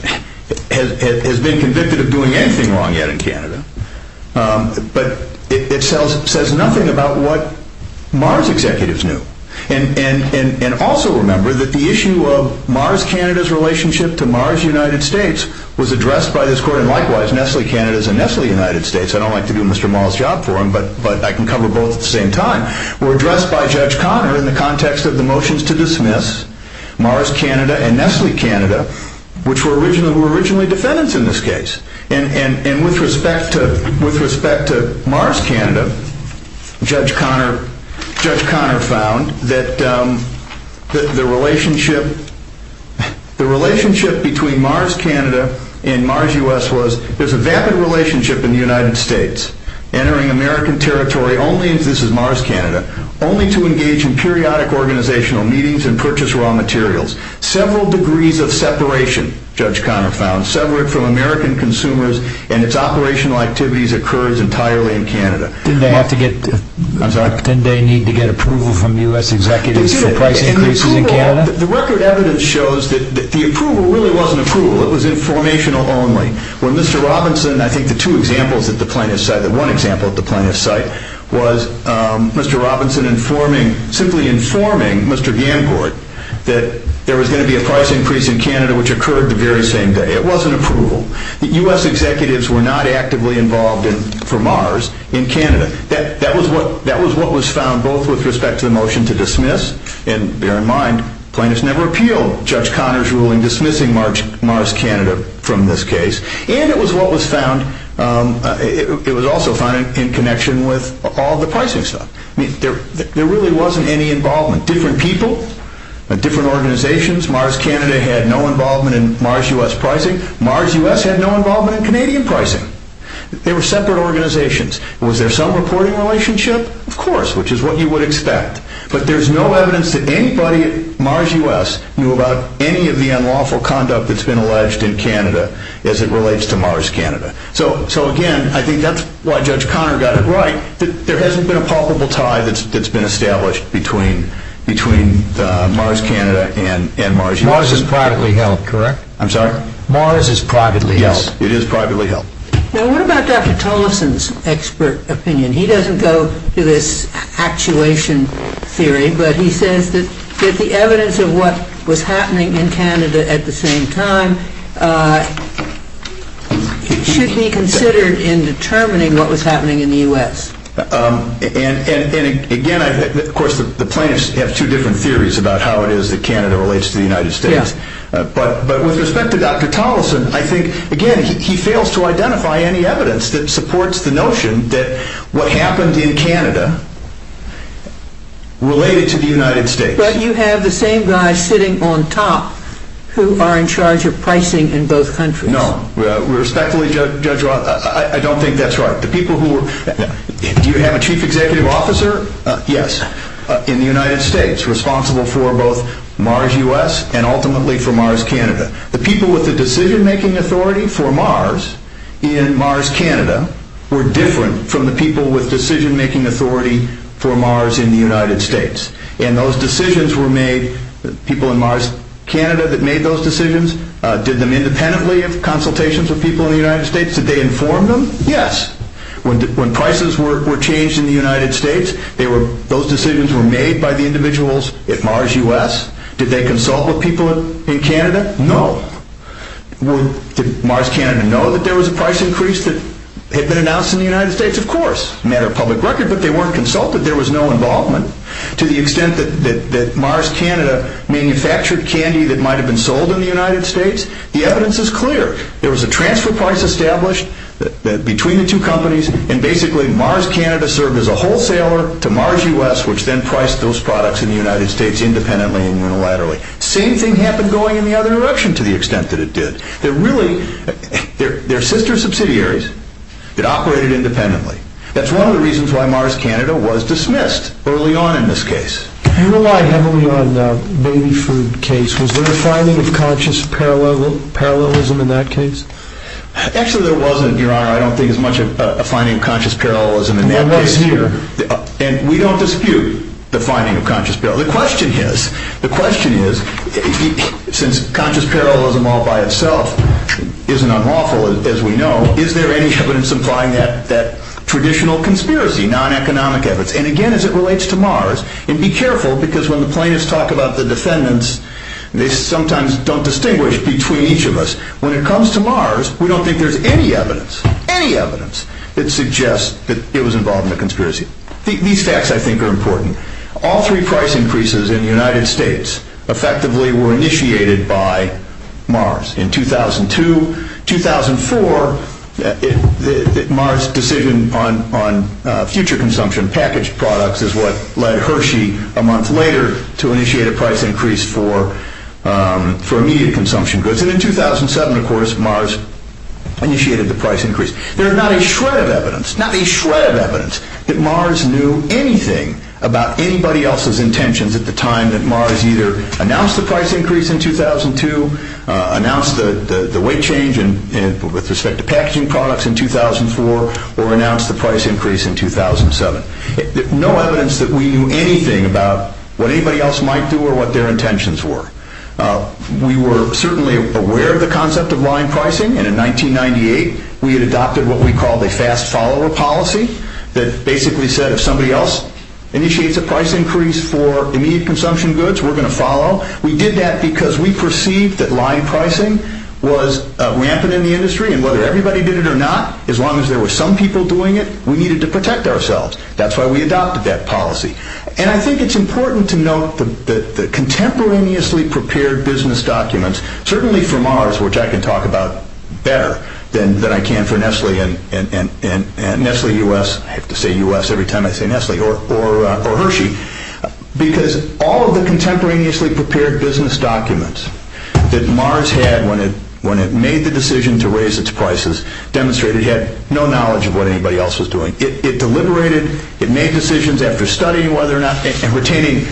been convicted of doing anything wrong yet in Canada. But it says nothing about what Mars executives knew. And also remember that the issue of Mars Canada's relationship to Mars United States was addressed by this court, and likewise, Nestle Canada is a Nestle United States. I don't like to do Mr. Morrow's job for him, but I can cover both at the same time. It was addressed by Judge Conner in the context of the motions to dismiss Mars Canada and Nestle Canada, which were originally defendants in this case. And with respect to Mars Canada, Judge Conner found that the relationship between Mars Canada and Mars U.S. is a vapid relationship in the United States. Entering American territory only, and this is Mars Canada, only to engage in periodic organizational meetings and purchase raw materials. Several degrees of separation, Judge Conner found, separate from American consumers and its operational activities occurred entirely in Canada. Didn't they need to get approval from U.S. executives? The record evidence shows that the approval really wasn't approval. It was informational only. When Mr. Robinson, I think the two examples at the plaintiff's site, or one example at the plaintiff's site, was Mr. Robinson informing, simply informing Mr. Gancourt that there was going to be a price increase in Canada, which occurred the very same day. It wasn't approval. The U.S. executives were not actively involved for Mars in Canada. And bear in mind, plaintiffs never appealed Judge Conner's ruling dismissing Mars Canada from this case. And it was also found in connection with all the pricing stuff. There really wasn't any involvement. Different people and different organizations, Mars Canada had no involvement in Mars U.S. pricing. Mars U.S. had no involvement in Canadian pricing. They were separate organizations. Was there some reporting relationship? Of course, which is what you would expect. But there's no evidence that anybody at Mars U.S. knew about any of the unlawful conduct that's been alleged in Canada as it relates to Mars Canada. So, again, I think that's why Judge Conner got it right. There hasn't been a palpable tie that's been established between Mars Canada and Mars U.S. Mars is privately held, correct? I'm sorry? Mars is privately held. Yes, it is privately held. Now, what about Dr. Thomason's expert opinion? He doesn't go to this actuation theory, but he says that the evidence of what was happening in Canada at the same time should be considered in determining what was happening in the U.S. And, again, of course, the plaintiffs have two different theories about how it is that Canada relates to the United States. But with respect to Dr. Thomason, I think, again, he fails to identify any evidence that supports the notion that what happens in Canada relates to the United States. But you have the same guys sitting on top who are in charge of pricing in both countries. No, respectfully, Judge Roth, I don't think that's right. The people who were... Do you have a chief executive officer? Yes. In the United States, responsible for both Mars U.S. and, ultimately, for Mars Canada. The people with the decision-making authority for Mars in Mars Canada were different from the people with decision-making authority for Mars in the United States. And those decisions were made... The people in Mars Canada that made those decisions, did them independently of consultations with people in the United States? Did they inform them? Yes. When prices were changed in the United States, those decisions were made by the individuals at Mars U.S. Did they consult with people in Canada? No. Did Mars Canada know that there was a price increase that had been announced in the United States? Of course. A matter of public record, but they weren't consulted. There was no involvement. To the extent that Mars Canada manufactured candy that might have been sold in the United States, the evidence is clear. There was a transfer price established between the two companies, and, basically, Mars Canada served as a wholesaler to Mars U.S., which then priced those products in the United States independently and unilaterally. Same thing happened going in the other direction to the extent that it did. They're really... They're sister subsidiaries that operated independently. That's one of the reasons why Mars Canada was dismissed early on in this case. Do you know why not early on in the baby food case? Was there a finding of conscious parallelism in that case? Actually, there wasn't, Your Honor. I don't think there was much of a finding of conscious parallelism in that case, either. I know it's you. And we don't dispute the finding of conscious parallelism. The question is, since conscious parallelism all by itself isn't unlawful, as we know, is there any evidence implying that traditional conspiracy, non-economic evidence? And, again, as it relates to Mars... And be careful, because when the plaintiffs talk about the defendants, they sometimes don't distinguish between each of us. When it comes to Mars, we don't think there's any evidence, any evidence, that suggests that it was involved in a conspiracy. These facts, I think, are important. All three price increases in the United States effectively were initiated by Mars. In 2002, 2004, Mars' decision on future consumption, packaged products, is what led Hershey a month later to initiate a price increase for immediate consumption goods. And in 2007, of course, Mars initiated the price increase. There is not a shred of evidence, not a shred of evidence, that Mars knew anything about anybody else's intentions at the time that Mars either announced the price increase in 2002, announced the weight change with respect to packaging products in 2004, or announced the price increase in 2007. No evidence that we knew anything about what anybody else might do or what their intentions were. We were certainly aware of the concept of line pricing, and in 1998, we had adopted what we called a fast follower policy that basically said if somebody else initiates a price increase for immediate consumption goods, we're going to follow. We did that because we perceived that line pricing was rampant in the industry, and whether everybody did it or not, as long as there were some people doing it, we needed to protect ourselves. That's why we adopted that policy. And I think it's important to note that the contemporaneously prepared business documents, certainly for Mars, which I can talk about better than I can for Nestle and Nestle U.S. I have to say U.S. every time I say Nestle, or Hershey, because all of the contemporaneously prepared business documents that Mars had when it made the decision to raise its prices demonstrated it had no knowledge of what anybody else was doing. It deliberated, it made decisions after studying whether or not, and retaining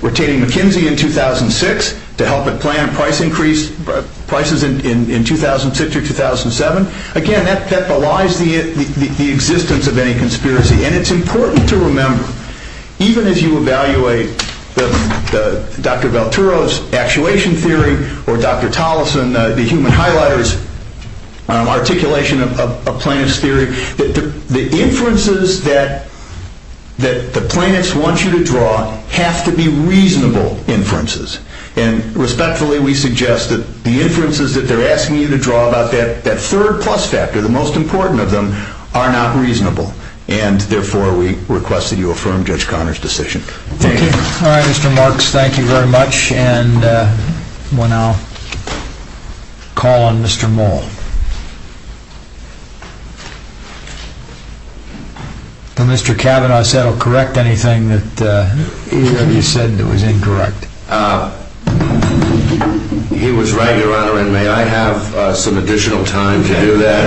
McKinsey in 2006 to help it plan price increases in 2006 or 2007. Again, that belies the existence of any conspiracy. And it's important to remember, even as you evaluate Dr. Velturo's actuation theory or Dr. Tolleson, the human highlighter's articulation of plaintiff's theory, that the inferences that the plaintiffs want you to draw have to be reasonable inferences. And respectfully, we suggest that the inferences that they're asking you to draw about that third plus factor, the most important of them, are not reasonable. And therefore, we request that you affirm Judge Conner's decision. Thank you. All right, Mr. Marks, thank you very much. And we'll now call on Mr. Moll. Now, Mr. Cavanaugh, I said I'll correct anything that he said that was incorrect. He was right, Your Honor, and may I have some additional time to do that?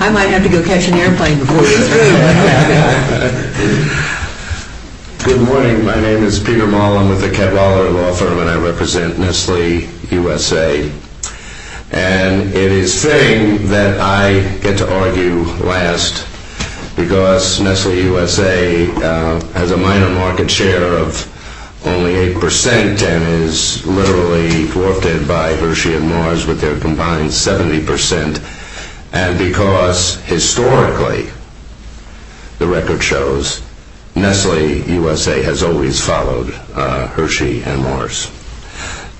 I might have to go catch an airplane before you. Good morning, my name is Peter Moll. I'm with the Kegeler Law Firm, and I represent Nestle USA. And it is fitting that I get to argue last, because Nestle USA has a minor market share of only 8 percent and is literally forfeited by Hershey and Morris with their combined 70 percent, and because historically, the record shows, Nestle USA has always followed Hershey and Morris.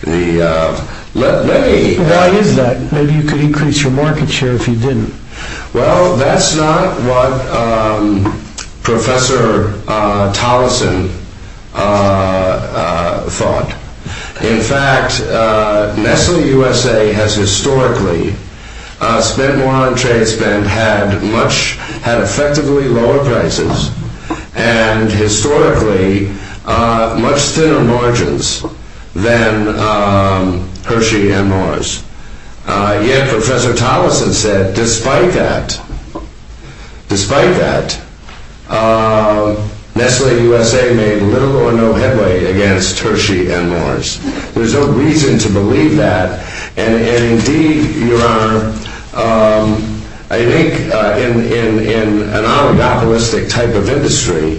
Well, I didn't know that. Maybe you could increase your market share if you didn't. Well, that's not what Professor Tolleson thought. In fact, Nestle USA has historically spent more on trade spend, had much, had effectively lower prices, and historically, much thinner margins than Hershey and Morris. Yet, Professor Tolleson said, despite that, Nestle USA made little or no headway against Hershey and Morris. There's no reason to believe that, and indeed, Your Honor, I think in an oligopolistic type of industry,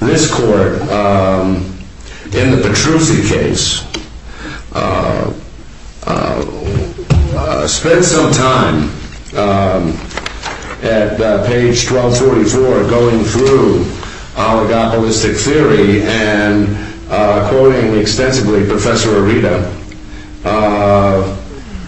this Court, in the Petrucci case, spent some time at page 1244 going through oligopolistic theory and quoting extensively Professor Areta.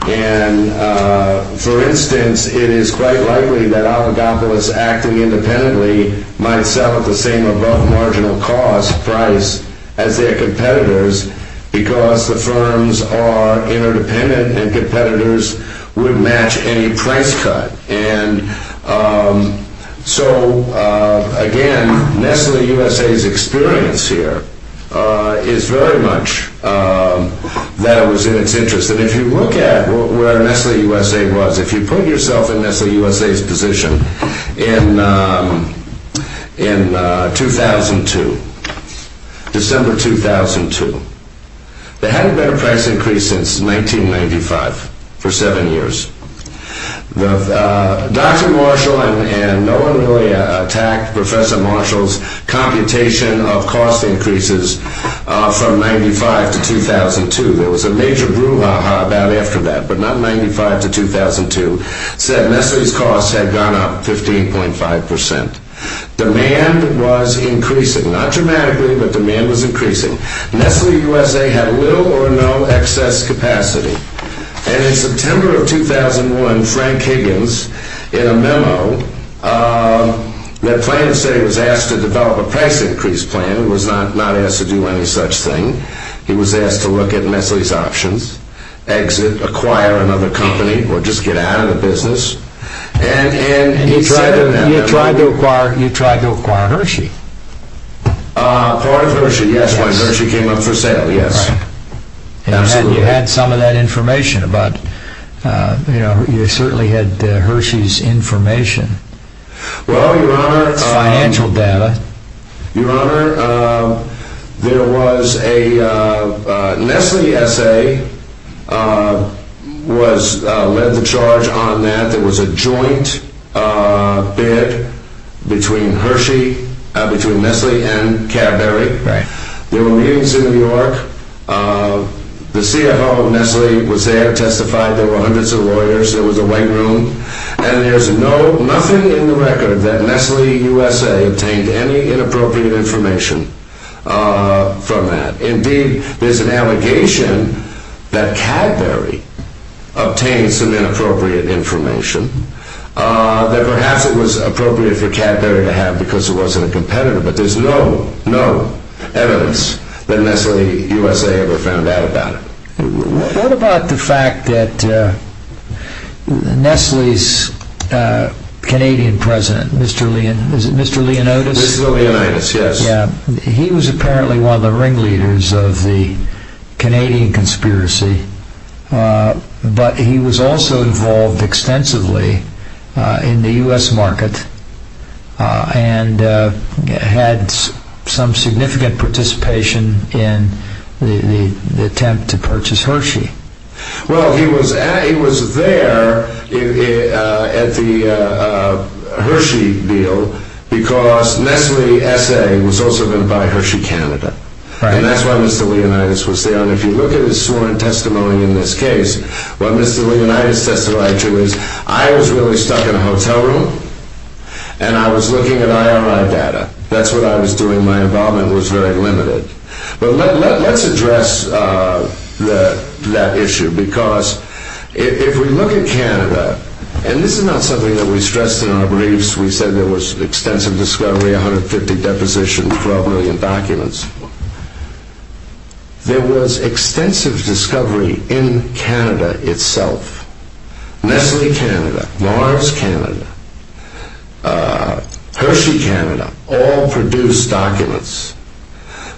And for instance, it is quite likely that oligopolists acting independently might suffer the same above-marginal-cost price as their competitors because the firms are interdependent, and competitors would match any price cut. And so, again, Nestle USA's experience here is very much that it was in its interest. And if you look at where Nestle USA was, if you put yourself in Nestle USA's position in 2002, December 2002, they had a better price increase since 1995 for seven years. Dr. Marshall and Noah Milley attacked Professor Marshall's computation of cost increases from 1995 to 2002. There was a major brouhaha about it after that, but not in 1995 to 2002. They said Nestle's costs had gone up 15.5 percent. Demand was increasing, not dramatically, but demand was increasing. Nestle USA had little or no excess capacity. And in September of 2001, Frank Higgins, in a memo, the planning state was asked to develop a price increase plan and was not asked to do any such thing. He was asked to look at Nestle's options, exit, acquire another company, or just get out of the business. And you tried to acquire Hershey. Acquire Hershey, yes, when Hershey came up for sale, yes. And you had some of that information. You certainly had Hershey's information, financial data. Your Honor, there was a Nestle essay led to charge on that. There was a joint bid between Nestle and Cadbury. There were meetings in New York. The CFO of Nestle was there, testified. There were hundreds of lawyers. There was a weight room. And there's nothing in the record that Nestle USA obtained any inappropriate information from that. Indeed, there's an allegation that Cadbury obtained some inappropriate information that perhaps it was appropriate for Cadbury to have because it wasn't a competitor, but there's no evidence that Nestle USA ever found out about it. What about the fact that Nestle's Canadian president, Mr. Leonidas, he was apparently one of the ringleaders of the Canadian conspiracy, but he was also involved extensively in the U.S. market and had some significant participation in the attempt to purchase Hershey. Well, he was there at the Hershey deal because Nestle USA was also going to buy Hershey Canada. And that's why Mr. Leonidas was there. And if you look at the sworn testimony in this case, what Mr. Leonidas testified to is I was really stuck in a hotel room and I was looking at I.R.I. data. That's what I was doing. My involvement was very limited. But let's address that issue because if we look at Canada, and this is not something that we stressed in our briefs. We said there was extensive discovery, 150 depositions, 12 million documents. There was extensive discovery in Canada itself. Nestle Canada, Mars Canada, Hershey Canada, all produced documents.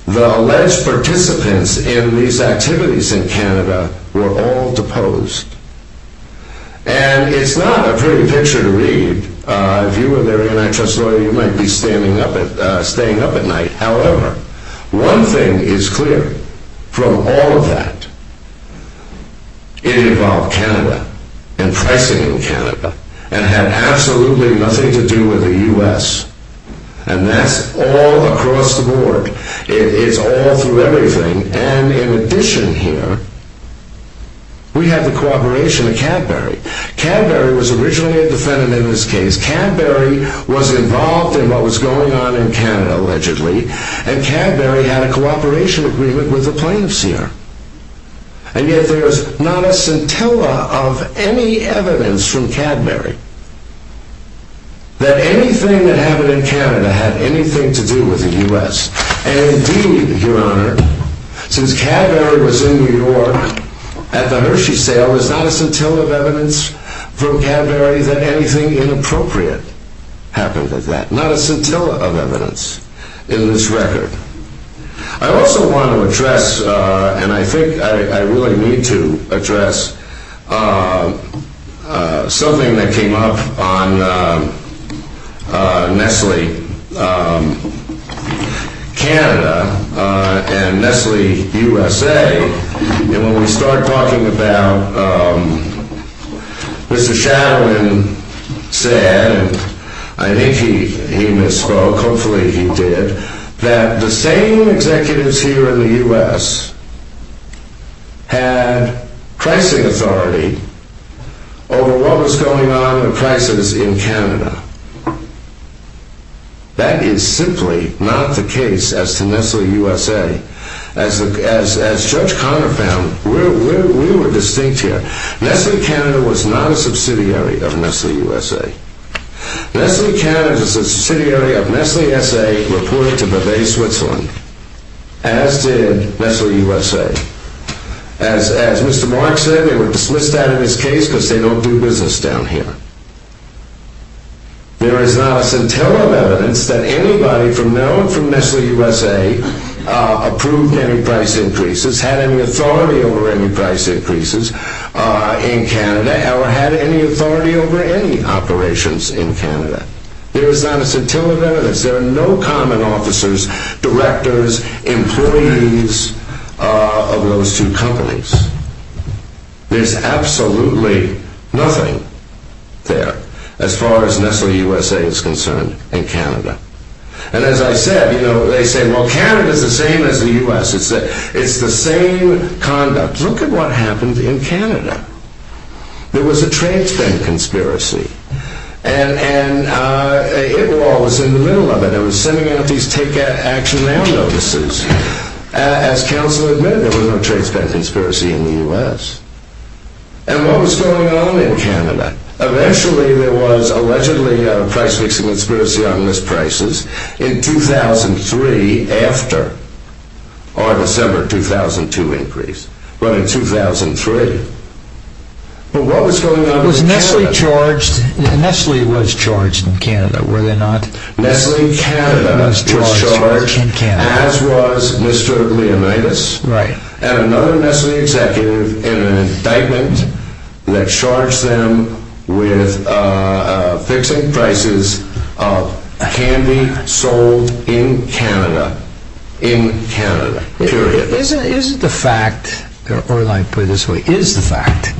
The alleged participants in these activities in Canada were all deposed. And it's not a pretty picture to read. If you were there in the NHS, you might be staying up at night. However, one thing is clear. From all of that, it involved Canada and pricing in Canada. And it had absolutely nothing to do with the U.S. And that's all across the board. It's all through everything. And in addition here, we had the cooperation of Cadbury. Cadbury was originally a defendant in this case. Cadbury was involved in what was going on in Canada allegedly. And Cadbury had a cooperation agreement with the plaintiffs here. And yet there is not a scintilla of any evidence from Cadbury that anything that happened in Canada had anything to do with the U.S. And indeed, Your Honor, since Cadbury was in New York at the Hershey sale, there is not a scintilla of evidence from Cadbury that anything inappropriate happened with that. Not a scintilla of evidence in this record. I also want to address, and I think I really need to address, something that came up on Nestle Canada and Nestle USA. And when we start talking about, Mr. Shadowin said, and I think he misspoke, hopefully he did, that the same executives here in the U.S. had pricing authority over what was going on in prices in Canada. That is simply not the case as to Nestle USA. As Judge Conner found, we were distinct here. Nestle Canada was not a subsidiary of Nestle USA. Nestle Canada is a subsidiary of Nestle USA reported to Bavay, Switzerland, as did Nestle USA. As Mr. Mark said, they were dismissed out of his case because they don't do business down here. There is not a scintilla of evidence that anybody from Maryland to Nestle USA approved any price increases, had any authority over any price increases in Canada, or had any authority over any operations in Canada. There is not a scintilla of evidence. There are no common officers, directors, employees of those two companies. There is absolutely nothing there, as far as Nestle USA is concerned, in Canada. And as I said, they said, well Canada is the same as the U.S. It's the same conduct. Look at what happened in Canada. There was a trade stamp conspiracy. And it all was in the middle of it. It was sending out these ticket action mail notices. As counsel admitted, there was no trade stamp conspiracy in the U.S. And what was going on in Canada? Eventually, there was allegedly a price increase conspiracy on misprices in 2003 after our December 2002 increase. Well, in 2003. But what was going on in Canada? Was Nestle charged? Nestle was charged in Canada, were they not? Nestle Canada was charged, as was Mr. Leonidas, and another Nestle executive in an indictment that charged them with fixing prices of candy sold in Canada. In Canada. Period. But isn't the fact, or let me put it this way, is the fact,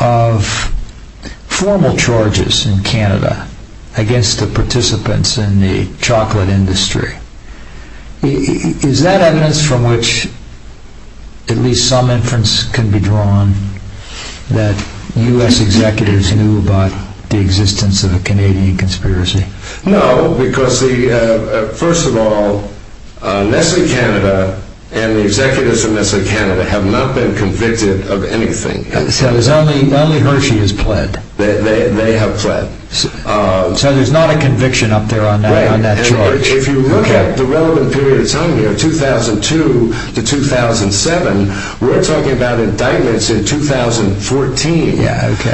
of formal charges in Canada against the participants in the chocolate industry, is that evidence from which at least some inference can be drawn that U.S. executives knew about the existence of a Canadian conspiracy? No, because first of all, Nestle Canada and the executives of Nestle Canada have not been convicted of anything. So there's only Hershey who's pled. They have pled. So there's not a conviction up there on that charge. If you look at the relevant period of time here, 2002 to 2007, we're talking about indictments in 2014.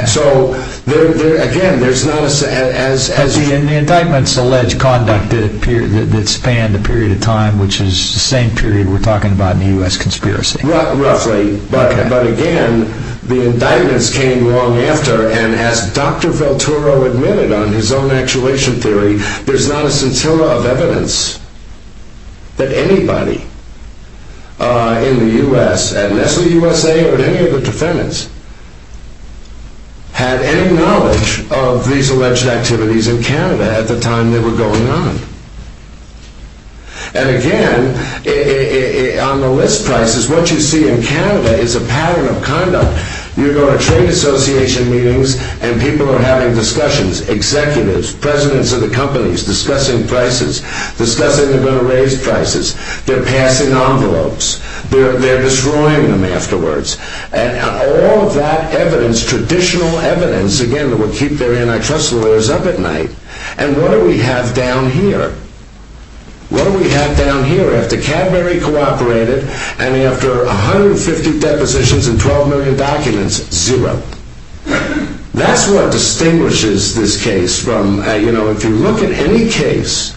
So again, there's not a... As the indictments allege conduct that spanned a period of time, which is the same period we're talking about in the U.S. conspiracy. Roughly. But again, the indictments came long after, and as Dr. Velturo admitted on his own actuation theory, there's not a scintilla of evidence that anybody in the U.S., at Nestle USA or any of the defendants, had any knowledge of these alleged activities in Canada at the time they were going on. And again, on the list prices, what you see in Canada is a pattern of conduct. You go to trade association meetings, and people are having discussions. Executives, presidents of the companies discussing prices, discussing their raised prices. They're passing envelopes. They're destroying them afterwards. And all that evidence, traditional evidence, again, will keep their antitrust lawyers up at night. And what do we have down here? What do we have down here after Cadbury cooperated and after 150 depositions and 12 million documents? Zero. That's what distinguishes this case from, you know, if you look at any case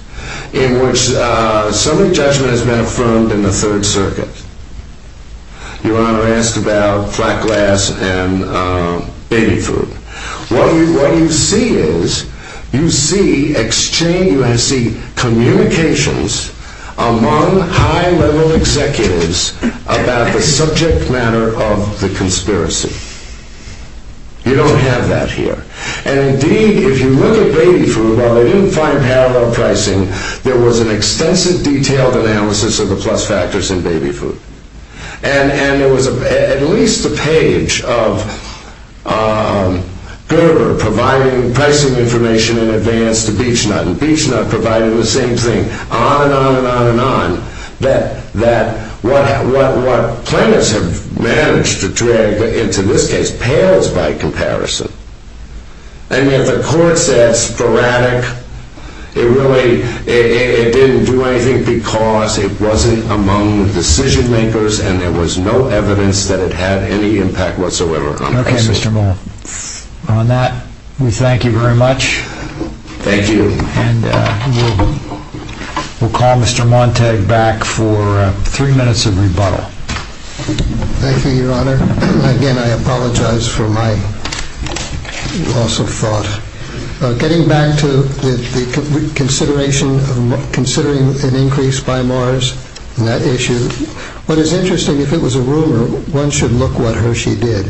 in which civil judgment has been affirmed in the Third Circuit. Your Honor asked about flat glass and binning food. What you see is you see exchange, you see communications among high-level executives about a subject matter of the conspiracy. You don't have that here. And indeed, if you look at baby food, while they didn't find parallel pricing, there was an extensive detailed analysis of the plus factors in baby food. And there was at least a page of Cadbury providing pricing information in advance to Beech-Nut, and Beech-Nut provided the same thing, on and on and on and on, that what plaintiffs have managed to drag into this case pales by comparison. And yet the court said sporadic. It really didn't do anything because it wasn't among the decision-makers, and there was no evidence that it had any impact whatsoever on the case. Okay, Mr. Moore. On that, we thank you very much. Thank you. And we'll call Mr. Montag back for three minutes of rebuttal. Thank you, Your Honor. Again, I apologize for my loss of thought. Getting back to the consideration of considering an increase by Mars and that issue, what is interesting, if it was a rumor, one should look what Hershey did.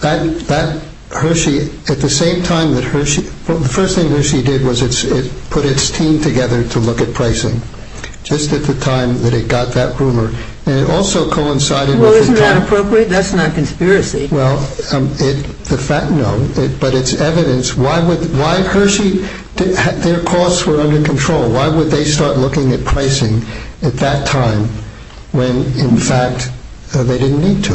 That Hershey, at the same time that Hershey – the first thing Hershey did was it put its team together to look at pricing, just at the time that it got that rumor. And it also coincided with the fact – Well, isn't that appropriate? That's not conspiracy. Well, no, but it's evidence why Hershey – their costs were under control. Why would they start looking at pricing at that time when, in fact, they didn't need to?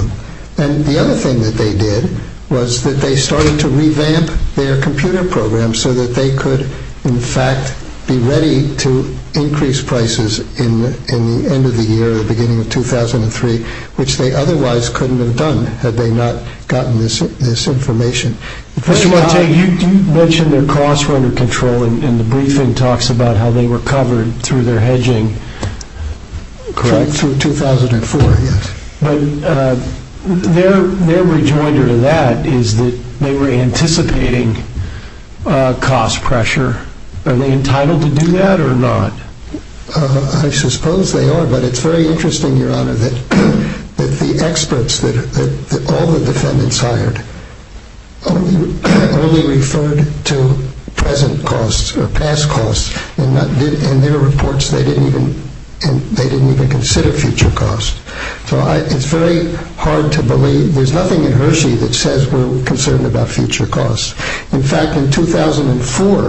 And the other thing that they did was that they started to revamp their computer programs so that they could, in fact, be ready to increase prices in the end of the year, beginning of 2003, which they otherwise couldn't have done had they not gotten this information. Mr. Markey, you mentioned their costs were under control, and the briefing talks about how they recovered through their hedging through 2004. But their rejoinder to that is that they were anticipating cost pressure. Are they entitled to do that or not? I suppose they are, but it's very interesting, Your Honor, that the experts that all the defendants hired only referred to present costs or past costs, and in their reports they didn't even consider future costs. So it's very hard to believe – there's nothing in Hershey that says we're concerned about future costs. In fact, in 2004 –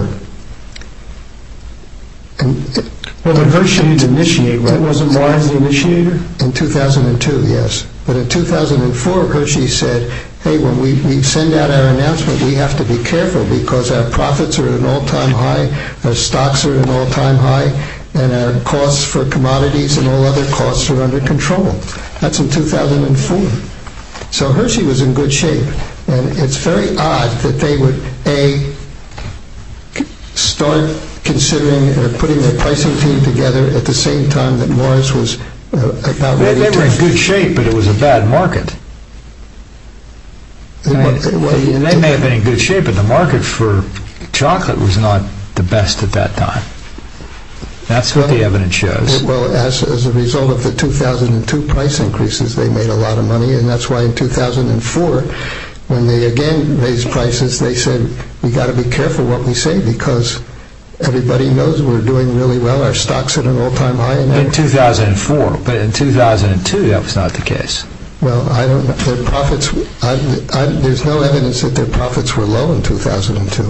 Well, in Hershey's initiative. That was in Warren's initiative? In 2002, yes. But in 2004, Hershey said, hey, when we send out our announcement, we have to be careful because our profits are at an all-time high, our stocks are at an all-time high, and our costs for commodities and all other costs are under control. That's in 2004. So Hershey was in good shape. And it's very odd that they would, A, start considering or putting their pricing team together at the same time that Morris was – They were in good shape, but it was a bad market. They may have been in good shape, but the market for chocolate was not the best at that time. That's what the evidence shows. Well, as a result of the 2002 price increases, they made a lot of money, and that's why in 2004, when they again raised prices, they said we've got to be careful what we say because everybody knows we're doing really well. Our stocks are at an all-time high. In 2004, but in 2002, that was not the case. Well, I don't – their profits – there's no evidence that their profits were low in 2002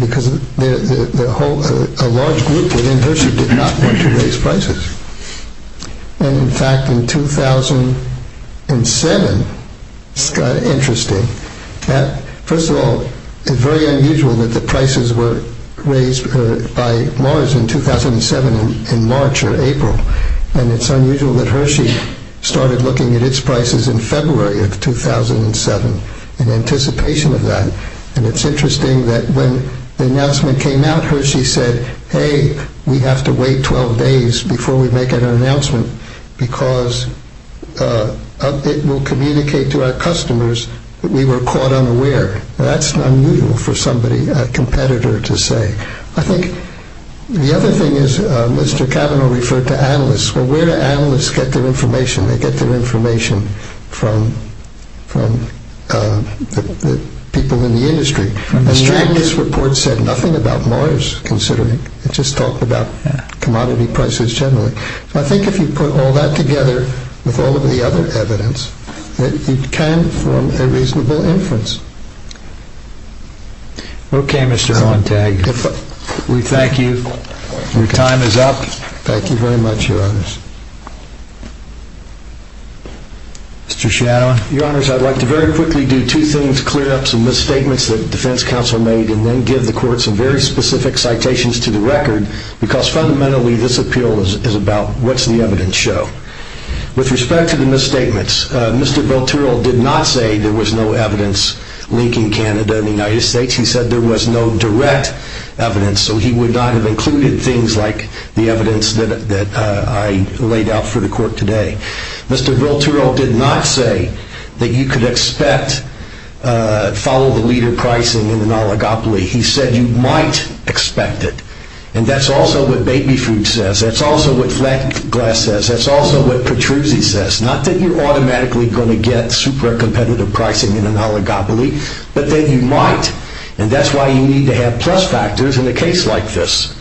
because a large group within Hershey did not want to raise prices. And in fact, in 2007, it got interesting. First of all, it's very unusual that the prices were raised by Morris in 2007 in March or April. And it's unusual that Hershey started looking at its prices in February of 2007 in anticipation of that. And it's interesting that when the announcement came out, Hershey said, hey, we have to wait 12 days before we make an announcement because it will communicate to our customers that we were caught unaware. Well, that's unusual for somebody, a competitor to say. I think the other thing is Mr. Cavanaugh referred to analysts. Well, where do analysts get their information? They get their information from the people in the industry. Mr. Cavanaugh's report said nothing about Morris considering. It just talked about commodity prices generally. So I think if you put all that together with all of the other evidence, it can form a reasonable inference. Okay, Mr. Hohentag, we thank you. Your time is up. Thank you very much, Your Honors. Mr. Shannon. Your Honors, I'd like to very quickly do two things, clear up some misstatements that the defense counsel made, and then give the court some very specific citations to the record because fundamentally this appeal is about what's the evidence show. With respect to the misstatements, Mr. Bill Terrell did not say there was no evidence linking Canada and the United States. He said there was no direct evidence, so he would not have included things like the evidence that I laid out for the court today. Mr. Bill Terrell did not say that you could expect follow-the-leader pricing in an oligopoly. He said you might expect it. And that's also what baby food says. That's also what flat glass says. That's also what Petruzzi says. Not that you're automatically going to get super competitive pricing in an oligopoly, but that you might. And that's why you need to have plus factors in a case like this.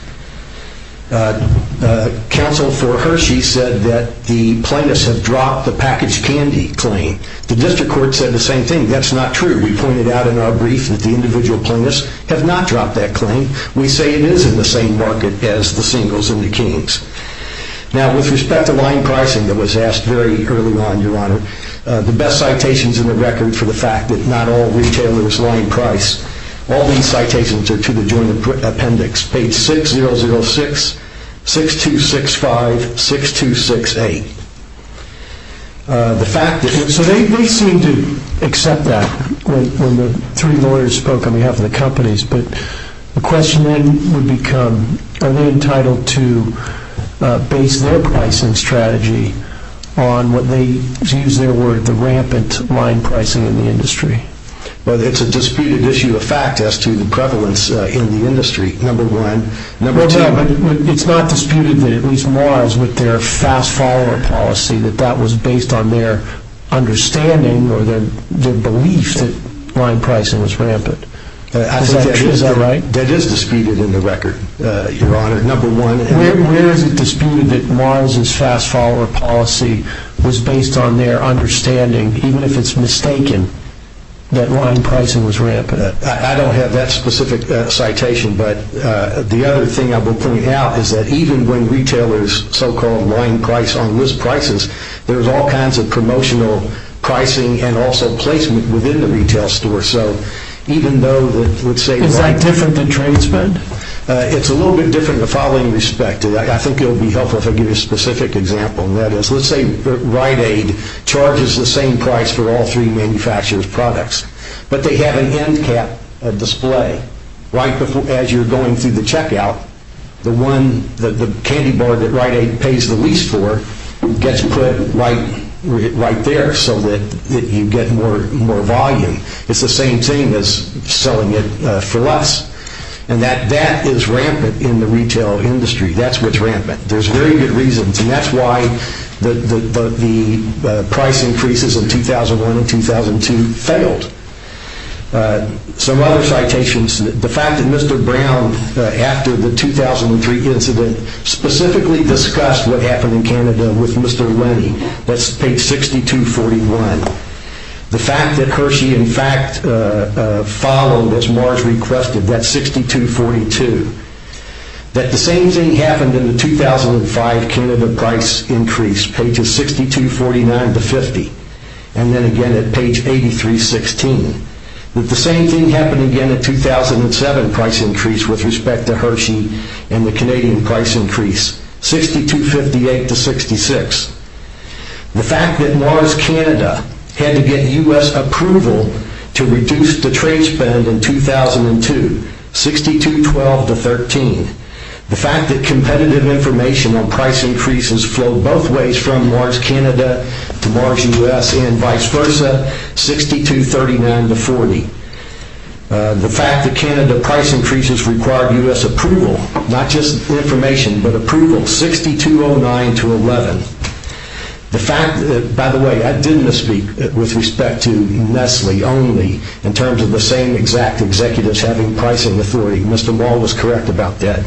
Counsel for Hershey said that the plaintiffs have dropped the packaged candy claim. The district court said the same thing. That's not true. We pointed out in our brief that the individual plaintiffs have not dropped that claim. We say it is in the same market as the singles and the kings. Now, with respect to line pricing that was asked very early on, Your Honor, the best citations in the record for the fact that not all retailers line price, all these citations are to the joint appendix, page 6006, 6265, 6268. So they seem to accept that when the three lawyers spoke on behalf of the companies, but the question would become are they entitled to base their pricing strategy on what they use their word, the rampant line pricing in the industry. Well, it's a disputed issue of fact as to the prevalence in the industry, number one. Well, no, but it's not disputed that at least Mars with their fast follower policy, that that was based on their understanding or their belief that line pricing was rampant. Is that right? That is disputed in the record, Your Honor, number one. Where is it disputed that Mars' fast follower policy was based on their understanding, even if it's mistaken, that line pricing was rampant? I don't have that specific citation, but the other thing I will point out is that even when retailers so-called line price on list prices, there's all kinds of promotional pricing and also placement within the retail store. So even though it would say- Is that different than transfer? It's a little bit different in the following respect. I think it would be helpful if I give you a specific example. Let's say Rite-Aid charges the same price for all three manufacturers' products, but they have an end cap display. As you're going through the checkout, the candy bar that Rite-Aid pays the lease for gets put right there so that you get more volume. It's the same thing as selling it for less, and that is rampant in the retail industry. That's what's rampant. There's very good reasons, and that's why the price increases in 2001 and 2002 failed. Some other citations. The fact that Mr. Brown, after the 2003 incident, specifically discussed what happened in Canada with Mr. Lenny. That's page 6241. The fact that Hershey, in fact, followed as Mars requested. That's 6242. That the same thing happened in the 2005 Canada price increase, pages 6249-50, and then again at page 8316. That the same thing happened again at 2007 price increase with respect to Hershey and the Canadian price increase, 6258-66. The fact that Mars Canada had to get U.S. approval to reduce the trade spend in 2002, 6212-13. The fact that competitive information on price increases flowed both ways from Mars Canada to Mars U.S. and vice versa, 6239-40. The fact that Canada price increases required U.S. approval, not just information, but approval, 6209-11. By the way, I did misspeak with respect to Nestle only, in terms of the same exact executives having pricing authority. Mr. Wall was correct about that.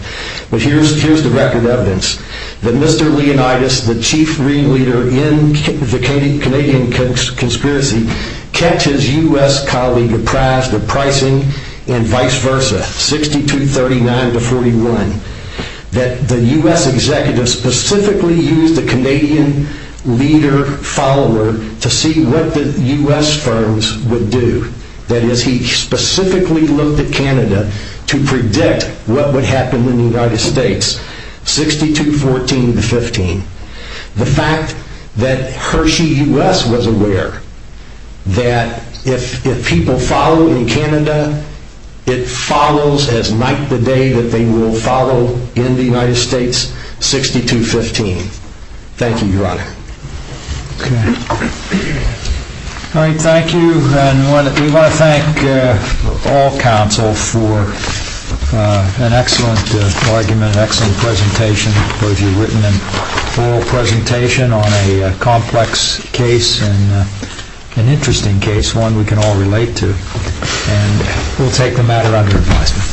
But here's the record evidence. That Mr. Leonidas, the chief leader in the Canadian conspiracy, kept his U.S. colleague apprised of pricing and vice versa, 6239-41. That the U.S. executives specifically used the Canadian leader follower to see what the U.S. firms would do. That is, he specifically looked at Canada to predict what would happen in the United States, 6214-15. The fact that Hershey U.S. was aware that if people follow in Canada, it follows as might the day that they will follow in the United States, 6215. All right, thank you. And we want to thank all counsel for an excellent argument, an excellent presentation, both your written and oral presentation on a complex case and an interesting case, one we can all relate to. And we'll take the matter under advisement.